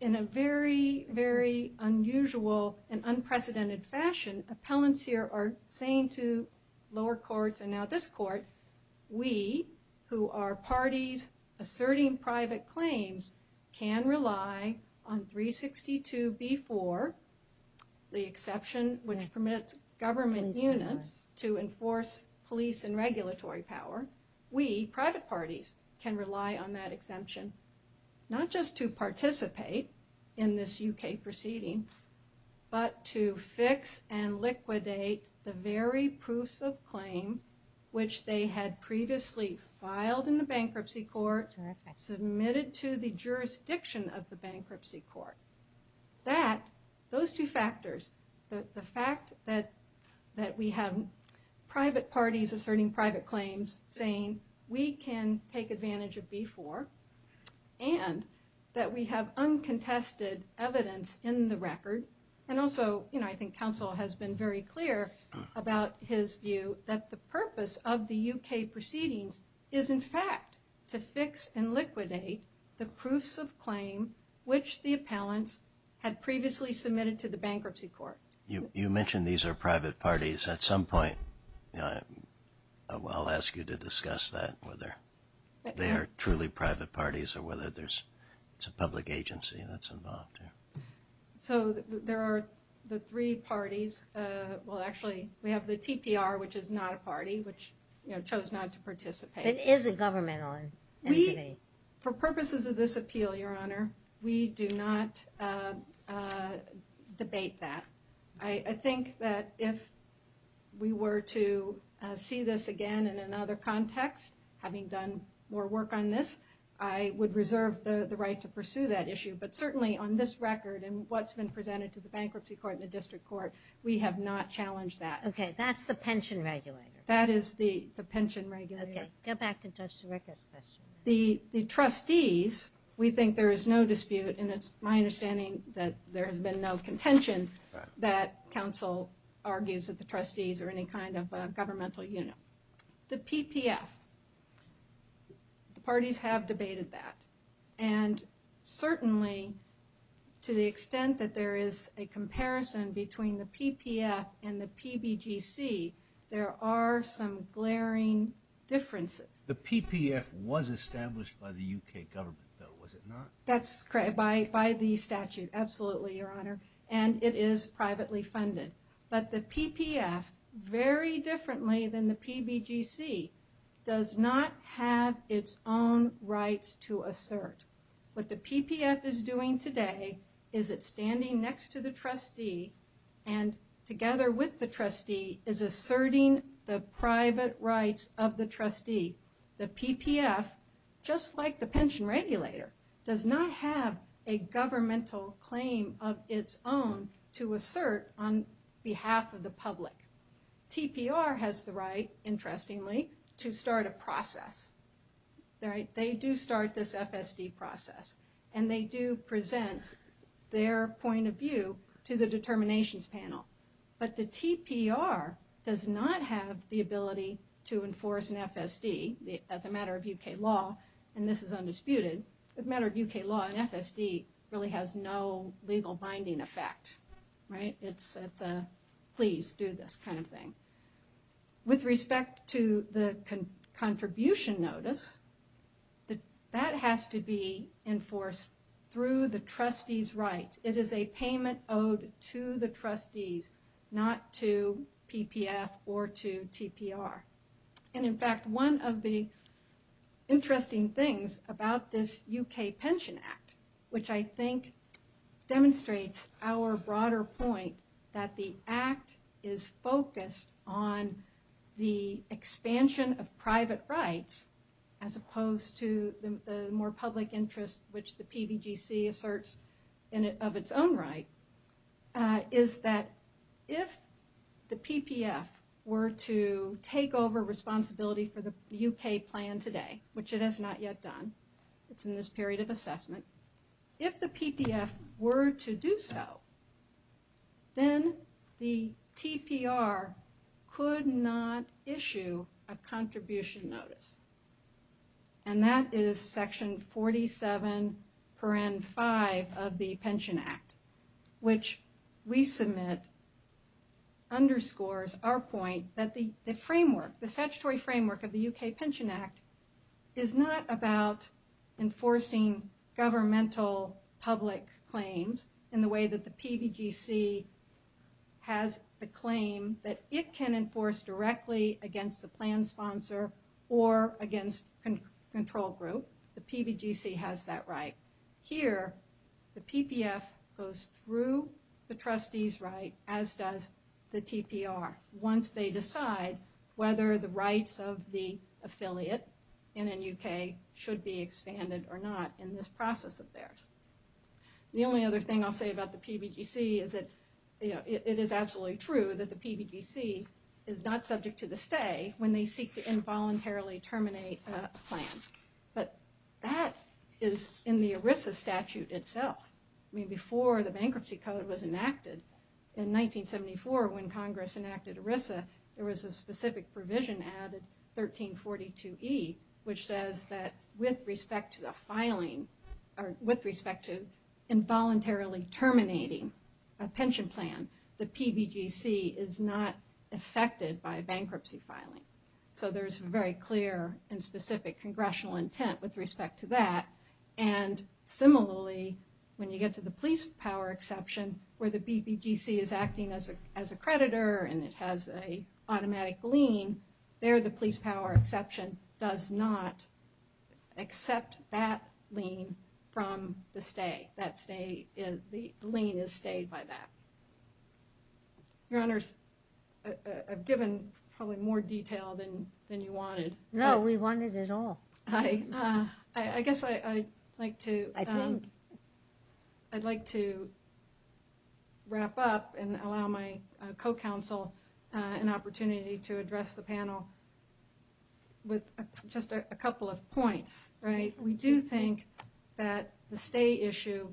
in a very, very unusual and unprecedented fashion, appellants here are saying to lower courts and now this Court, that we, who are parties asserting private claims, can rely on 362B4, the exception which permits government units to enforce police and regulatory power. We, private parties, can rely on that exemption, not just to participate in this UK proceeding, but to fix and liquidate the very proofs of claim which they had previously filed in the bankruptcy court and submitted to the jurisdiction of the bankruptcy court. Those two factors, the fact that we have private parties asserting private claims, saying we can take advantage of B4, and that we have uncontested evidence in the record, and also I think counsel has been very clear about his view that the purpose of the UK proceeding is in fact to fix and liquidate the proofs of claim which the appellants had previously submitted to the bankruptcy court. You mentioned these are private parties. At some point I'll ask you to discuss that, whether they are truly private parties or whether it's a public agency that's involved. So there are the three parties. Well, actually, we have the TPR, which is not a party, which chose not to participate. It is a government entity. For purposes of this appeal, Your Honor, we do not debate that. I think that if we were to see this again in another context, having done more work on this, I would reserve the right to pursue that issue. But certainly on this record and what's been presented to the bankruptcy court and the district court, we have not challenged that. Okay, that's the pension regulator. That is the pension regulator. Okay, get back to Justice Ricketts. The trustees, we think there is no dispute, and it's my understanding that there has been no contention that counsel argues that the trustees are any kind of governmental unit. The PPF, parties have debated that. And certainly to the extent that there is a comparison between the PPF and the PBGC, there are some glaring differences. The PPF was established by the U.K. government, though, was it not? That's correct, by the statute, absolutely, Your Honor. And it is privately funded. But the PPF, very differently than the PBGC, does not have its own right to assert. What the PPF is doing today is it's standing next to the trustee and together with the trustee is asserting the private rights of the trustee. The PPF, just like the pension regulator, does not have a governmental claim of its own to assert on behalf of the public. TPR has the right, interestingly, to start a process. They do start this FSD process, and they do present their point of view to the determinations panel. But the TPR does not have the ability to enforce an FSD as a matter of U.K. law, and this is undisputed. As a matter of U.K. law, an FSD really has no legal binding effect. It's a please do this kind of thing. With respect to the contribution notice, that has to be enforced through the trustee's right. It is a payment owed to the trustees, not to PPF or to TPR. And in fact, one of the interesting things about this U.K. Pension Act, which I think demonstrates our broader point that the Act is focused on the expansion of private rights as opposed to the more public interest which the PDGC asserts of its own right, is that if the PPF were to take over responsibility for the U.K. plan today, which it has not yet done, it's in this period of assessment. If the PPF were to do so, then the TPR could not issue a contribution notice. And that is section 47.5 of the Pension Act, which we submit underscores our point that the framework, the statutory framework of the U.K. Pension Act is not about enforcing governmental public claims in the way that the PDGC has the claim that it can enforce directly against the plan sponsor or against control group. The PDGC has that right. Here, the PPF goes through the trustee's right, as does the TPR. Once they decide whether the rights of the affiliate in the U.K. should be expanded or not in this process of theirs. The only other thing I'll say about the PDGC is that it is absolutely true that the PDGC is not subject to the stay when they seek to involuntarily terminate a plan. But that is in the ERISA statute itself. I mean, before the bankruptcy code was enacted, in 1974, when Congress enacted ERISA, there was a specific provision added, 1342E, which says that with respect to the filing, or with respect to involuntarily terminating a pension plan, the PDGC is not affected by bankruptcy filing. So there's very clear and specific congressional intent with respect to that. And similarly, when you get to the police power exception, where the PDGC is acting as a creditor, and it has an automatic lien, there the police power exception does not accept that lien from the stay. That stay is the lien is stayed by that. Your Honors, I've given probably more detail than you wanted. No, we wanted it all. I guess I'd like to wrap up and allow my co-counsel an opportunity to address the panel with just a couple of points. We do think that the stay issue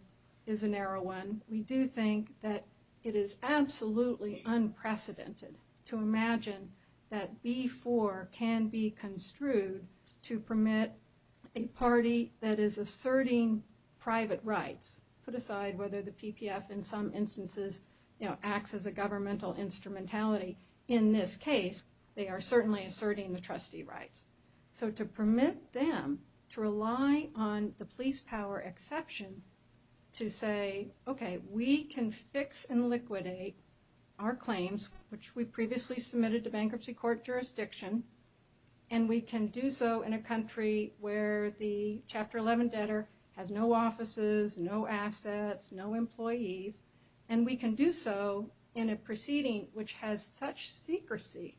is a narrow one. We do think that it is absolutely unprecedented to imagine that B-4 can be construed to permit a party that is asserting private rights. Put aside whether the PPF in some instances acts as a governmental instrumentality. In this case, they are certainly asserting the trustee rights. So to permit them to rely on the police power exception to say, okay, we can fix and liquidate our claims, which we previously submitted to bankruptcy court jurisdiction, and we can do so in a country where the Chapter 11 debtor has no offices, no assets, no employees, and we can do so in a proceeding which has such secrecy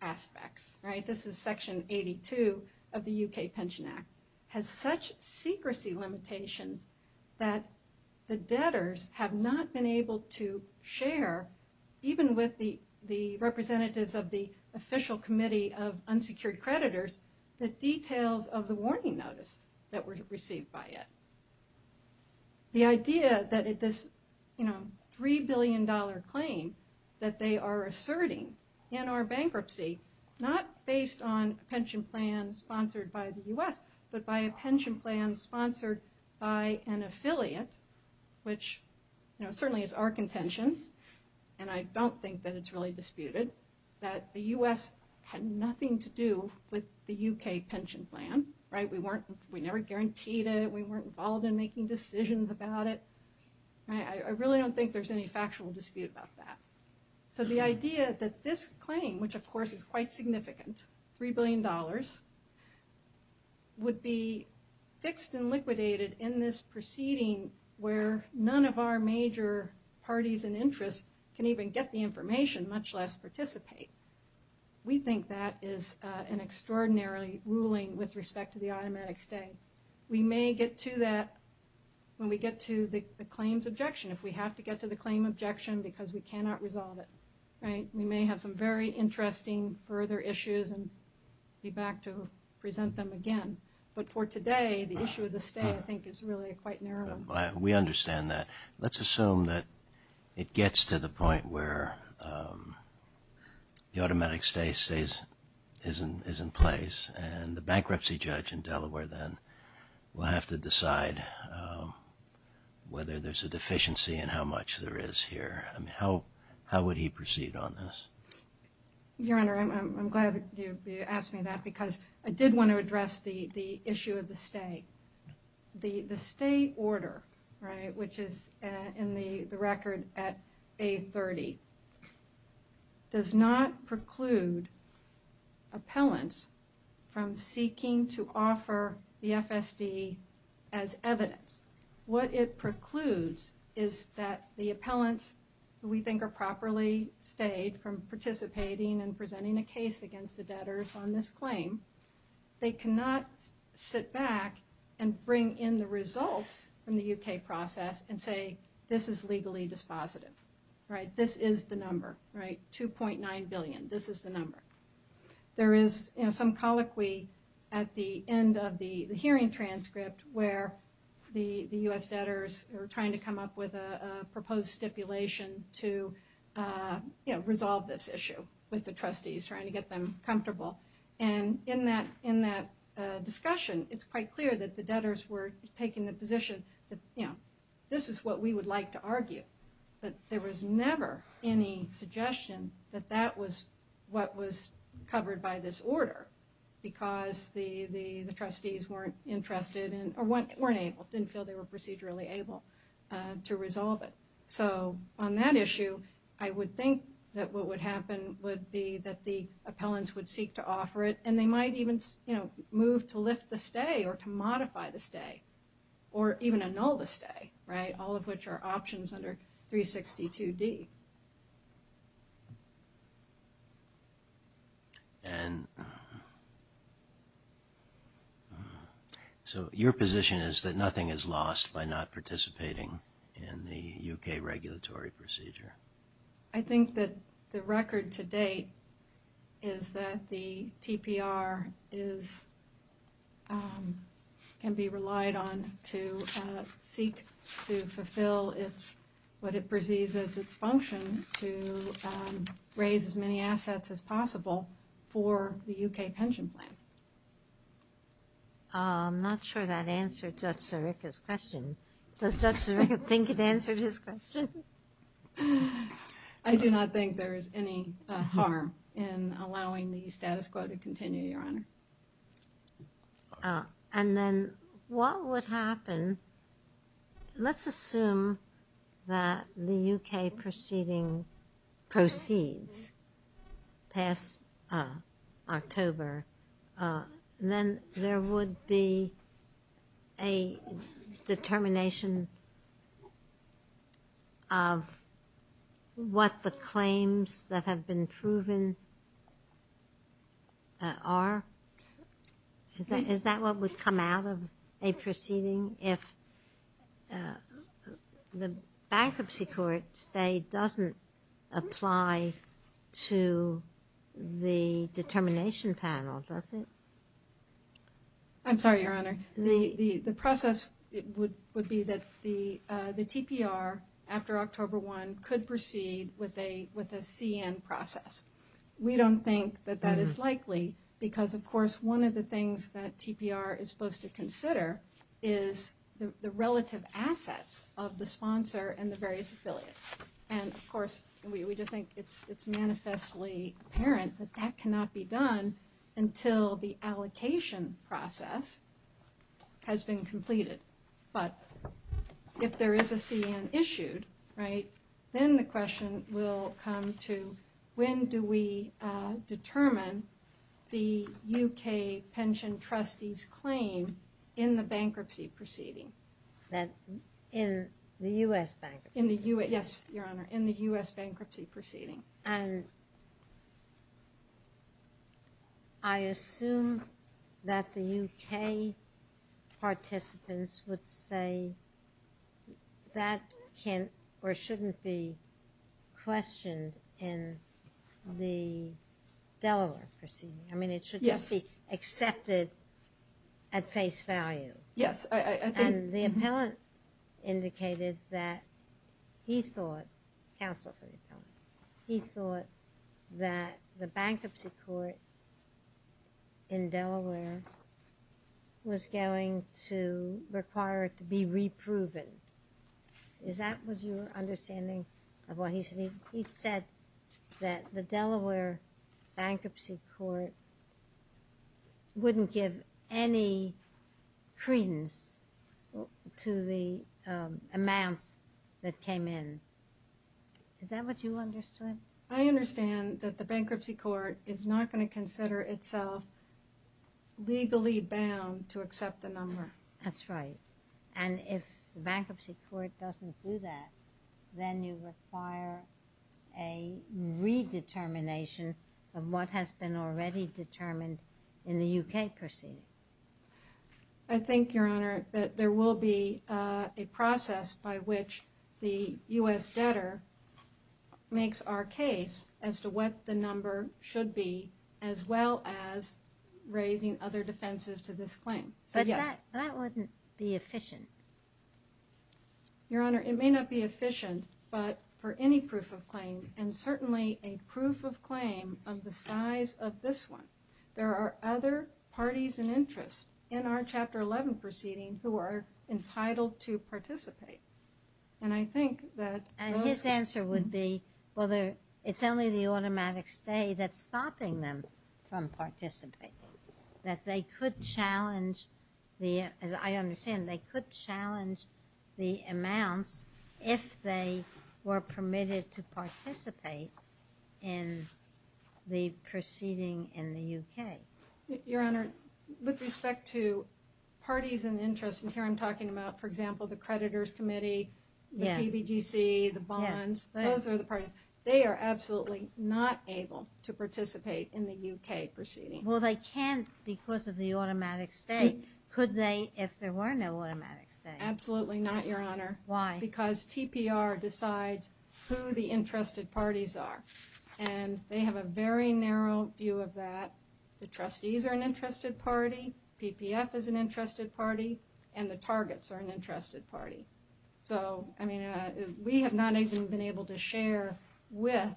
aspects. This is Section 82 of the U.K. Pension Act. It has such secrecy limitations that the debtors have not been able to share, even with the representatives of the official committee of unsecured creditors, the details of the warning notice that were received by it. The idea that this $3 billion claim that they are asserting in our bankruptcy, not based on a pension plan sponsored by the U.S., but by a pension plan sponsored by an affiliate, which certainly is our contention, and I don't think that it's really disputed, that the U.S. had nothing to do with the U.K. pension plan. We never guaranteed it. We weren't involved in making decisions about it. I really don't think there's any factual dispute about that. So the idea that this claim, which of course is quite significant, $3 billion, would be fixed and liquidated in this proceeding where none of our major parties and interests can even get the information, much less participate. We think that is an extraordinary ruling with respect to the automatic stay. We may get to that when we get to the claims objection, if we have to get to the claim objection because we cannot resolve it. We may have some very interesting further issues and be back to present them again. But for today, the issue of the stay, I think, is really quite narrow. We understand that. Let's assume that it gets to the point where the automatic stay is in place and the bankruptcy judge in Delaware then will have to decide whether there's a deficiency and how much there is here. How would he proceed on this? Your Honor, I'm glad you asked me that because I did want to address the issue of the stay. The stay order, which is in the record at A30, does not preclude appellants from seeking to offer the FSD as evidence. What it precludes is that the appellants, who we think are properly stayed from participating and presenting a case against the debtors on this claim, they cannot sit back and bring in the results from the U.K. process and say, this is legally dispositive. This is the number, $2.9 billion. This is the number. There is some colloquy at the end of the hearing transcript where the U.S. debtors are trying to come up with a proposed stipulation to resolve this issue with the trustees, trying to get them comfortable. And in that discussion, it's quite clear that the debtors were taking the position that, you know, this is what we would like to argue. But there was never any suggestion that that was what was covered by this order because the trustees weren't interested or weren't able, didn't feel they were procedurally able to resolve it. So on that issue, I would think that what would happen would be that the appellants would seek to offer it, and they might even, you know, move to lift the stay or to modify the stay or even annul the stay, right, all of which are options under 362D. And so your position is that nothing is lost by not participating in the U.K. regulatory procedure. I think that the record to date is that the TPR can be relied on to seek to fulfill what it perceives as its function. But not the benefit but we would like to think that there's opportunity for the TPR to assist on the other end in deciding whether this should occur or not, not necessarily to the ministers and not necessarily to the commission. So what we would need to hang onto is, you know, if a proceeding proceeds past October, then there would be a determination of what the claims that have been The process would be that the TPR, after October 1, could proceed with a CN process. We don't think that that is likely because, of course, one of the things that TPR is supposed to consider is the relative assets of the sponsor and the various affiliates. And, of course, we do think it's manifestly apparent that that cannot be done until the allocation process has been completed. But if there is a CN issued, right, then the question will come to when do we determine the UK pension trustees' claim in the bankruptcy proceeding? In the U.S. bankruptcy? In the U.S., yes, Your Honor, in the U.S. bankruptcy proceeding. And I assume that the UK participants would say that can't or shouldn't be questioned in the Delaware proceeding. I mean, it should just be accepted at face value. Yes. And the appellant indicated that he thought, counsel, he thought that the bankruptcy court in Delaware was going to require it to be re-proven. Is that what your understanding of what he said? He said that the Delaware bankruptcy court wouldn't give any credence to the amount that came in. Is that what you understood? I understand that the bankruptcy court is not going to consider itself legally bound to accept the number. That's right. And if the bankruptcy court doesn't do that, then you require a re-determination of what has been already determined in the UK proceeding. I think, Your Honor, that there will be a process by which the U.S. debtor makes our case as to what the number should be as well as raising other defenses to this claim. But that wouldn't be efficient. Your Honor, it may not be efficient, but for any proof of claim, and certainly a proof of claim of the size of this one, there are other parties and interests in our Chapter 11 proceeding who are entitled to participate. And I think that... And his answer would be, well, it's only the automatic stay that's stopping them from participating. That they could challenge the... As I understand, they could challenge the amount if they were permitted to participate in the proceeding in the UK. Your Honor, with respect to parties and interests, and here I'm talking about, for example, the creditors' committee, the CBGC, the bonds, those are the parties. They are absolutely not able to participate in the UK proceeding. Well, they can't because of the automatic stay. Could they if there were no automatic stay? Absolutely not, Your Honor. Why? Because TPR decides who the interested parties are. And they have a very narrow view of that. The trustees are an interested party. PPF is an interested party. And the targets are an interested party. So, I mean, we have not even been able to share with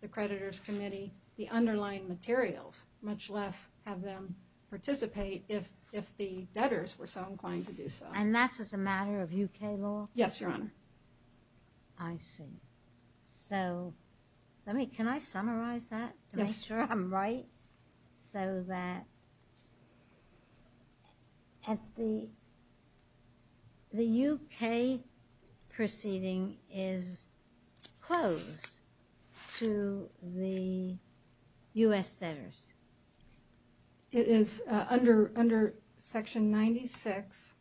the creditors' committee the underlying materials, much less have them participate if the debtors were so inclined to do so. And that's just a matter of UK law? Yes, Your Honor. I see. So, let me... Can I summarize that to make sure I'm right? Yes. So that the UK proceeding is closed to the U.S. debtors? It is under Section 96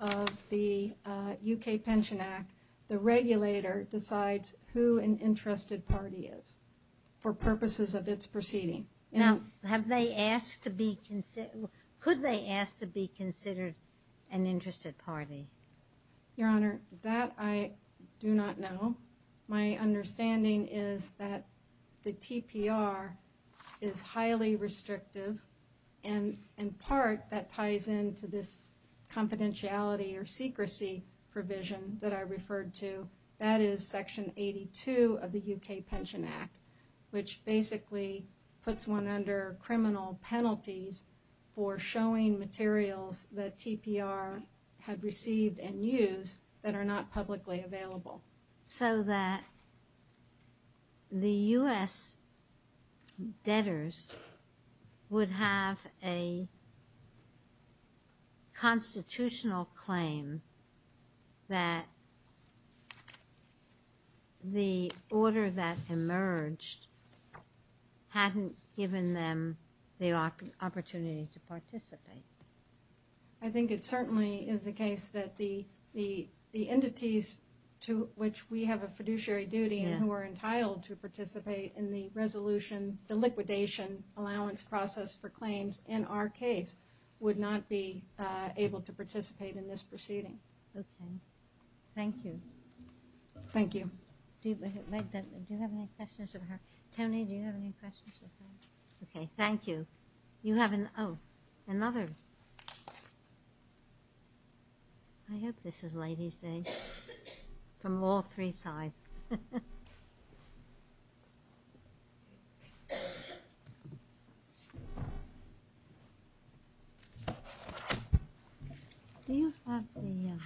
of the UK Pension Act. The regulator decides who an interested party is for purposes of its proceeding. Now, could they ask to be considered an interested party? Your Honor, that I do not know. My understanding is that the TPR is highly restrictive. And, in part, that ties into this confidentiality or secrecy provision that I referred to. That is Section 82 of the UK Pension Act, which basically puts one under criminal penalties for showing materials that TPR had received and used that are not publicly available. So that the U.S. debtors would have a constitutional claim that the order that emerged hadn't given them the opportunity to participate? I think it certainly is the case that the entities to which we have a fiduciary duty and who are entitled to participate in the resolution, the liquidation, allowance process for claims in our case would not be able to participate in this proceeding. Okay. Thank you. Thank you. Do you have any questions of her? Tony, do you have any questions of her? Okay. Thank you. You have another? I hope this is Ladies' Day. From all three sides. Do you have a minute?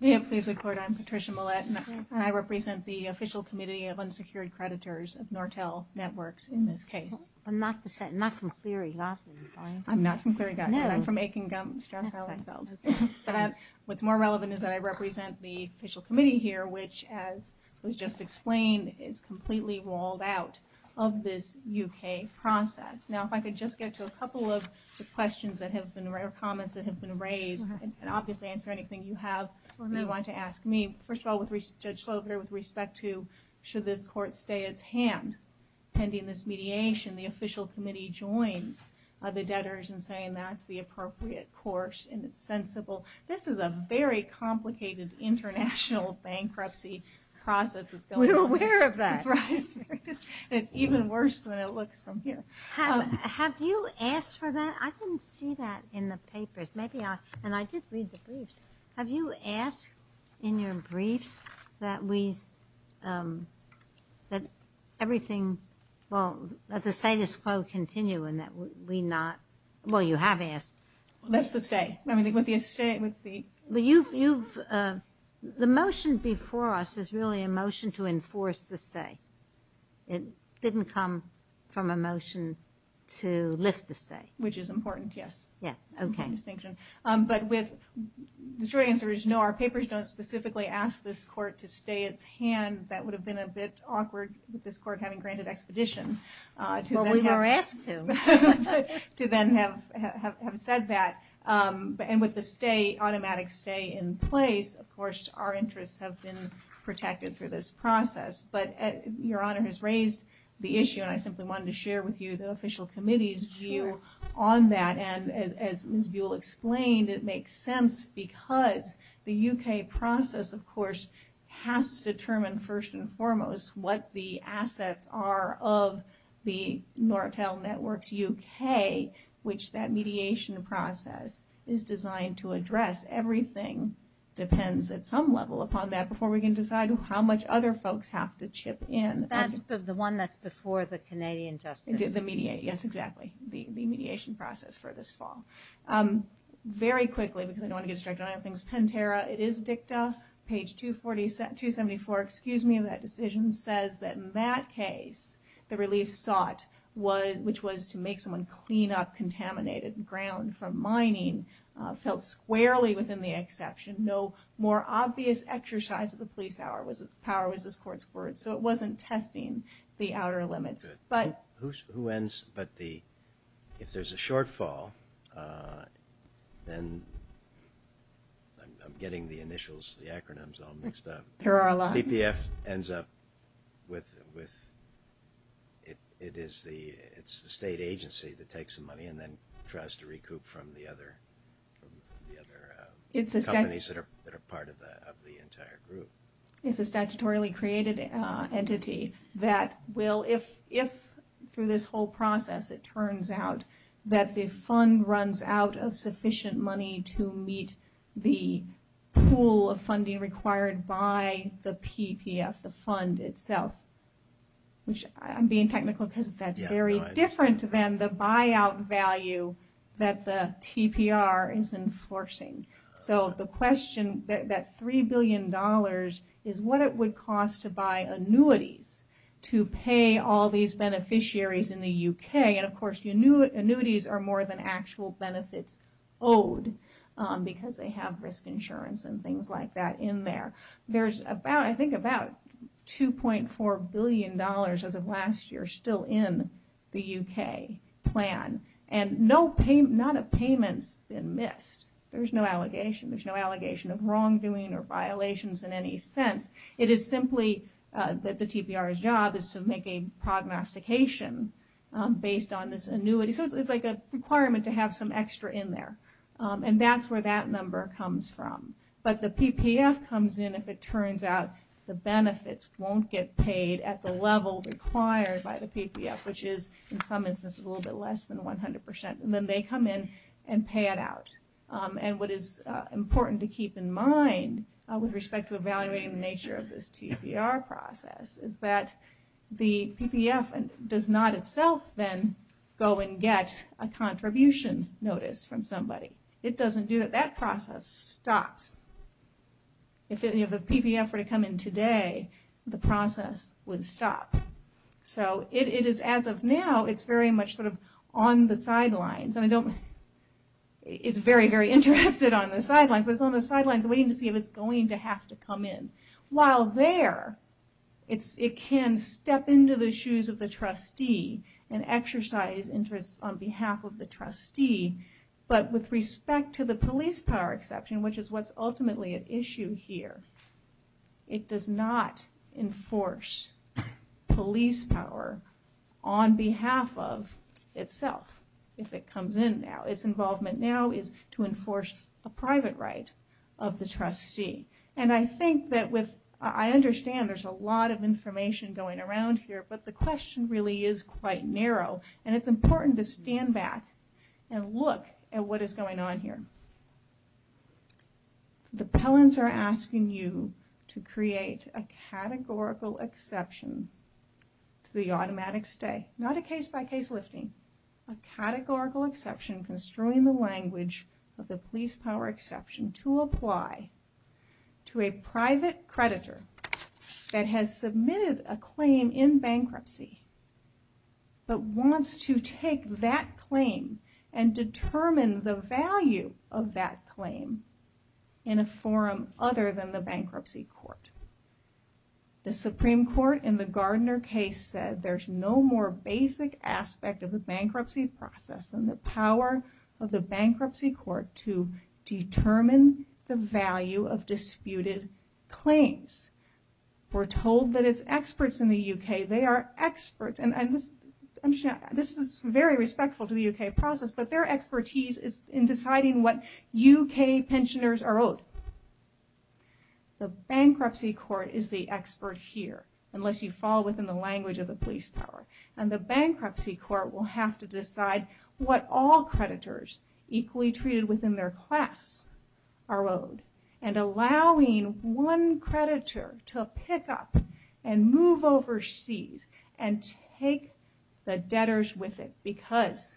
May I please record? I'm Patricia Millett. I represent the Official Committee of Unsecured Creditors of Nortel Networks in this case. I'm not from CERI. I'm not from CERI, either. I'm from Aiken Gump. What's more relevant is that I represent the Official Committee here, which, as was just explained, is completely walled out of this U.K. process. Now, if I could just get to a couple of questions or comments that have been raised, and obviously answer anything you have that you want to ask me. First of all, with respect to should this court stay at hand pending this mediation, the Official Committee joins the debtors in saying that's the appropriate course and it's sensible. This is a very complicated international bankruptcy process. We're aware of that. It's even worse when I look from here. Have you asked for that? I didn't see that in the papers. And I did read the briefs. Have you asked in your briefs that we – that everything – well, that the status quo continue and that we not – well, you have asked. That's the stay. The motion before us is really a motion to enforce the stay. It didn't come from a motion to lift the stay. Which is important, yes. Yes, okay. But with – the short answer is no. Our papers don't specifically ask this court to stay at hand. That would have been a bit awkward with this court having granted expedition to then have said that. And with the stay, automatic stay in place, of course, our interests have been protected through this process. But Your Honor has raised the issue, and I simply wanted to share with you the Official Committee's view on that. And as Ms. Buell explained, it makes sense because the U.K. process, of course, has to determine first and foremost what the assets are of the Nortel Networks U.K., which that mediation process is designed to address. Everything depends at some level upon that before we can decide how much other folks have to chip in. That's the one that's before the Canadian Justice – The mediation, yes, exactly. The mediation process for this fall. Very quickly, because I don't want to distract you on anything, it's 10-terra. It is dicta. Page 274, excuse me, of that decision says that in that case, the relief thought was – which was to make someone clean up contaminated ground from mining, felt squarely within the exception. No more obvious exercise of the police power was this court's word. So it wasn't testing the outer limits. Who ends – but the – if there's a shortfall, then – I'm getting the initials, the acronyms all mixed up. There are a lot. CPF ends up with – it is the state agency that takes the money and then tries to recoup from the other companies that are part of the entire group. It's a statutorily created entity that will – if, through this whole process, it turns out that the fund runs out of sufficient money to meet the pool of funding required by the PPF, the fund itself, which I'm being technical because that's very different than the buyout value that the PPR is enforcing. So the question – that $3 billion is what it would cost to buy annuities to pay all these beneficiaries in the U.K. And, of course, annuities are more than actual benefits owed because they have risk insurance and things like that in there. There's about – I think about $2.4 billion of the last year still in the U.K. plan. And not a payment has been missed. There's no allegation. There's no allegation of wrongdoing or violations in any sense. It is simply that the TPR's job is to make a prognostication based on this annuity. So it's like a requirement to have some extra in there, and that's where that number comes from. But the PPF comes in if it turns out the benefits won't get paid at the level required by the PPF, which is, in some instances, a little bit less than 100 percent. And then they come in and pay it out. And what is important to keep in mind with respect to evaluating the nature of this TPR process is that the PPF does not itself then go and get a contribution notice from somebody. It doesn't do it. That process stops. If the PPF were to come in today, the process would stop. So it is, as of now, it's very much sort of on the sidelines. It's very, very interested on the sidelines, but it's on the sidelines waiting to see if it's going to have to come in. While there, it can step into the shoes of the trustee and exercise interest on behalf of the trustee. But with respect to the police power section, which is what's ultimately at issue here, it does not enforce police power on behalf of itself if it comes in now. Its involvement now is to enforce the private right of the trustee. And I think that with – I understand there's a lot of information going around here, but the question really is quite narrow. And it's important to stand back and look at what is going on here. The pellants are asking you to create a categorical exception to the automatic stay. Not a case-by-case listing. A categorical exception construing the language of the police power exception to apply to a private creditor that has submitted a claim in bankruptcy, but wants to take that claim and determine the value of that claim in a forum other than the bankruptcy court. The Supreme Court in the Gardner case said there's no more basic aspect of the bankruptcy process than the power of the bankruptcy court to determine the value of disputed claims. We're told that it's experts in the U.K. They are experts. And this is very respectful to the U.K. process, but their expertise is in deciding what U.K. pensioners are owed. The bankruptcy court is the expert here, unless you fall within the language of the police power. And the bankruptcy court will have to decide what all creditors equally treated within their class are owed, and allowing one creditor to pick up and move overseas and take the debtors with it. Because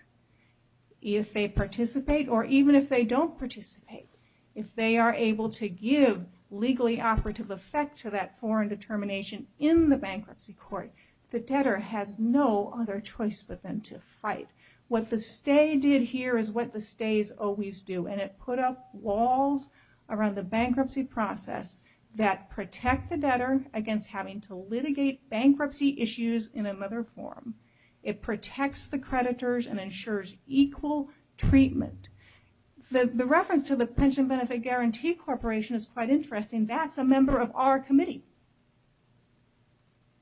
if they participate, or even if they don't participate, if they are able to give legally operative effect to that foreign determination in the bankruptcy court, the debtor has no other choice but then to fight. What the stay did here is what the stays always do, and it put up walls around the bankruptcy process that protect the debtor against having to litigate bankruptcy issues in another forum. It protects the creditors and ensures equal treatment. The reference to the Pension Benefit Guarantee Corporation is quite interesting. That's a member of our committee,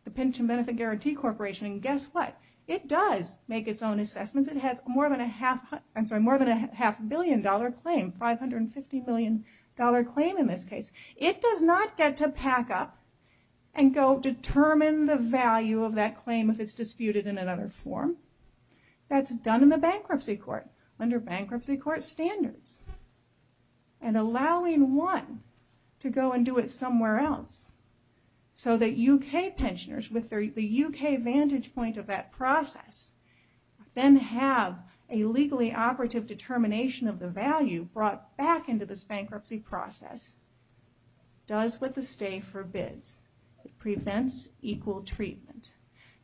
the Pension Benefit Guarantee Corporation. And guess what? It does make its own assessments. It has more than a half billion dollar claim, $550 billion claim in this case. It does not get to pack up and go determine the value of that claim if it's disputed in another forum. That's done in the bankruptcy court, under bankruptcy court standards, and allowing one to go and do it somewhere else. So that U.K. pensioners, with the U.K. vantage point of that process, then have a legally operative determination of the value brought back into this bankruptcy process, does what the stay forbids. It prevents equal treatment.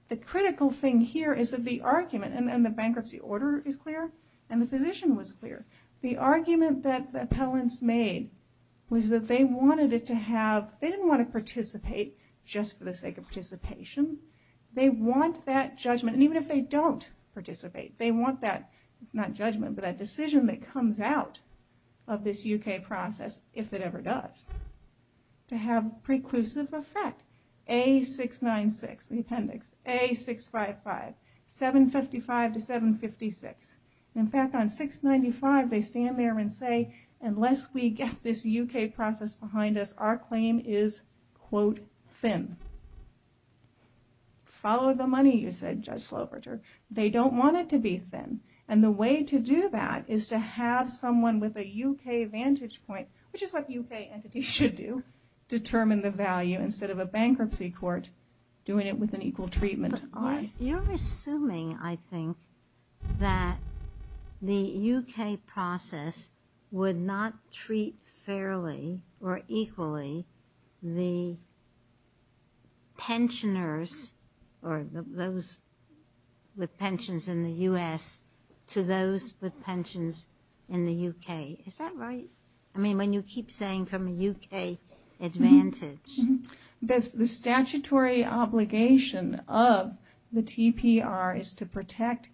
The critical thing here is that the argument, and the bankruptcy order is clear, and the position was clear. The argument that the appellants made was that they wanted it to have, they didn't want to participate just for the sake of participation. They want that judgment, and even if they don't participate, they want that, not judgment, but a decision that comes out of this U.K. process, if it ever does, to have preclusive effect. A696, the appendix, A655, 755 to 756. In fact, on 695, they stand there and say, unless we get this U.K. process behind us, our claim is, quote, thin. Follow the money, you said, Judge Sloverter. They don't want it to be thin, and the way to do that is to have someone with a U.K. vantage point, which is what U.K. entities should do, determine the value instead of a bankruptcy court doing it with an equal treatment. But you're assuming, I think, that the U.K. process would not treat fairly or equally the pensioners, or those with pensions in the U.S., to those with pensions in the U.K. Is that right? I mean, when you keep saying from a U.K. advantage. The statutory obligation of the TPR is to protect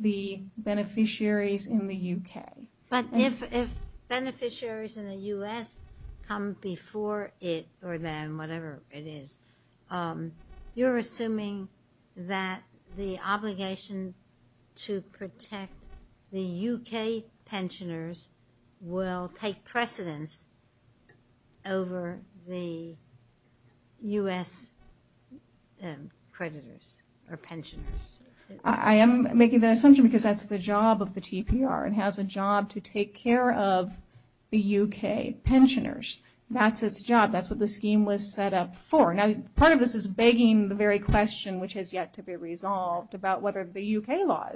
the beneficiaries in the U.K. But if beneficiaries in the U.S. come before it or then, whatever it is, you're assuming that the obligation to protect the U.K. pensioners will take precedence over the U.S. creditors or pensioners. I am making that assumption because that's the job of the TPR. It has a job to take care of the U.K. pensioners. That's its job. That's what the scheme was set up for. Now, part of this is begging the very question, which has yet to be resolved, about what are the U.K. laws.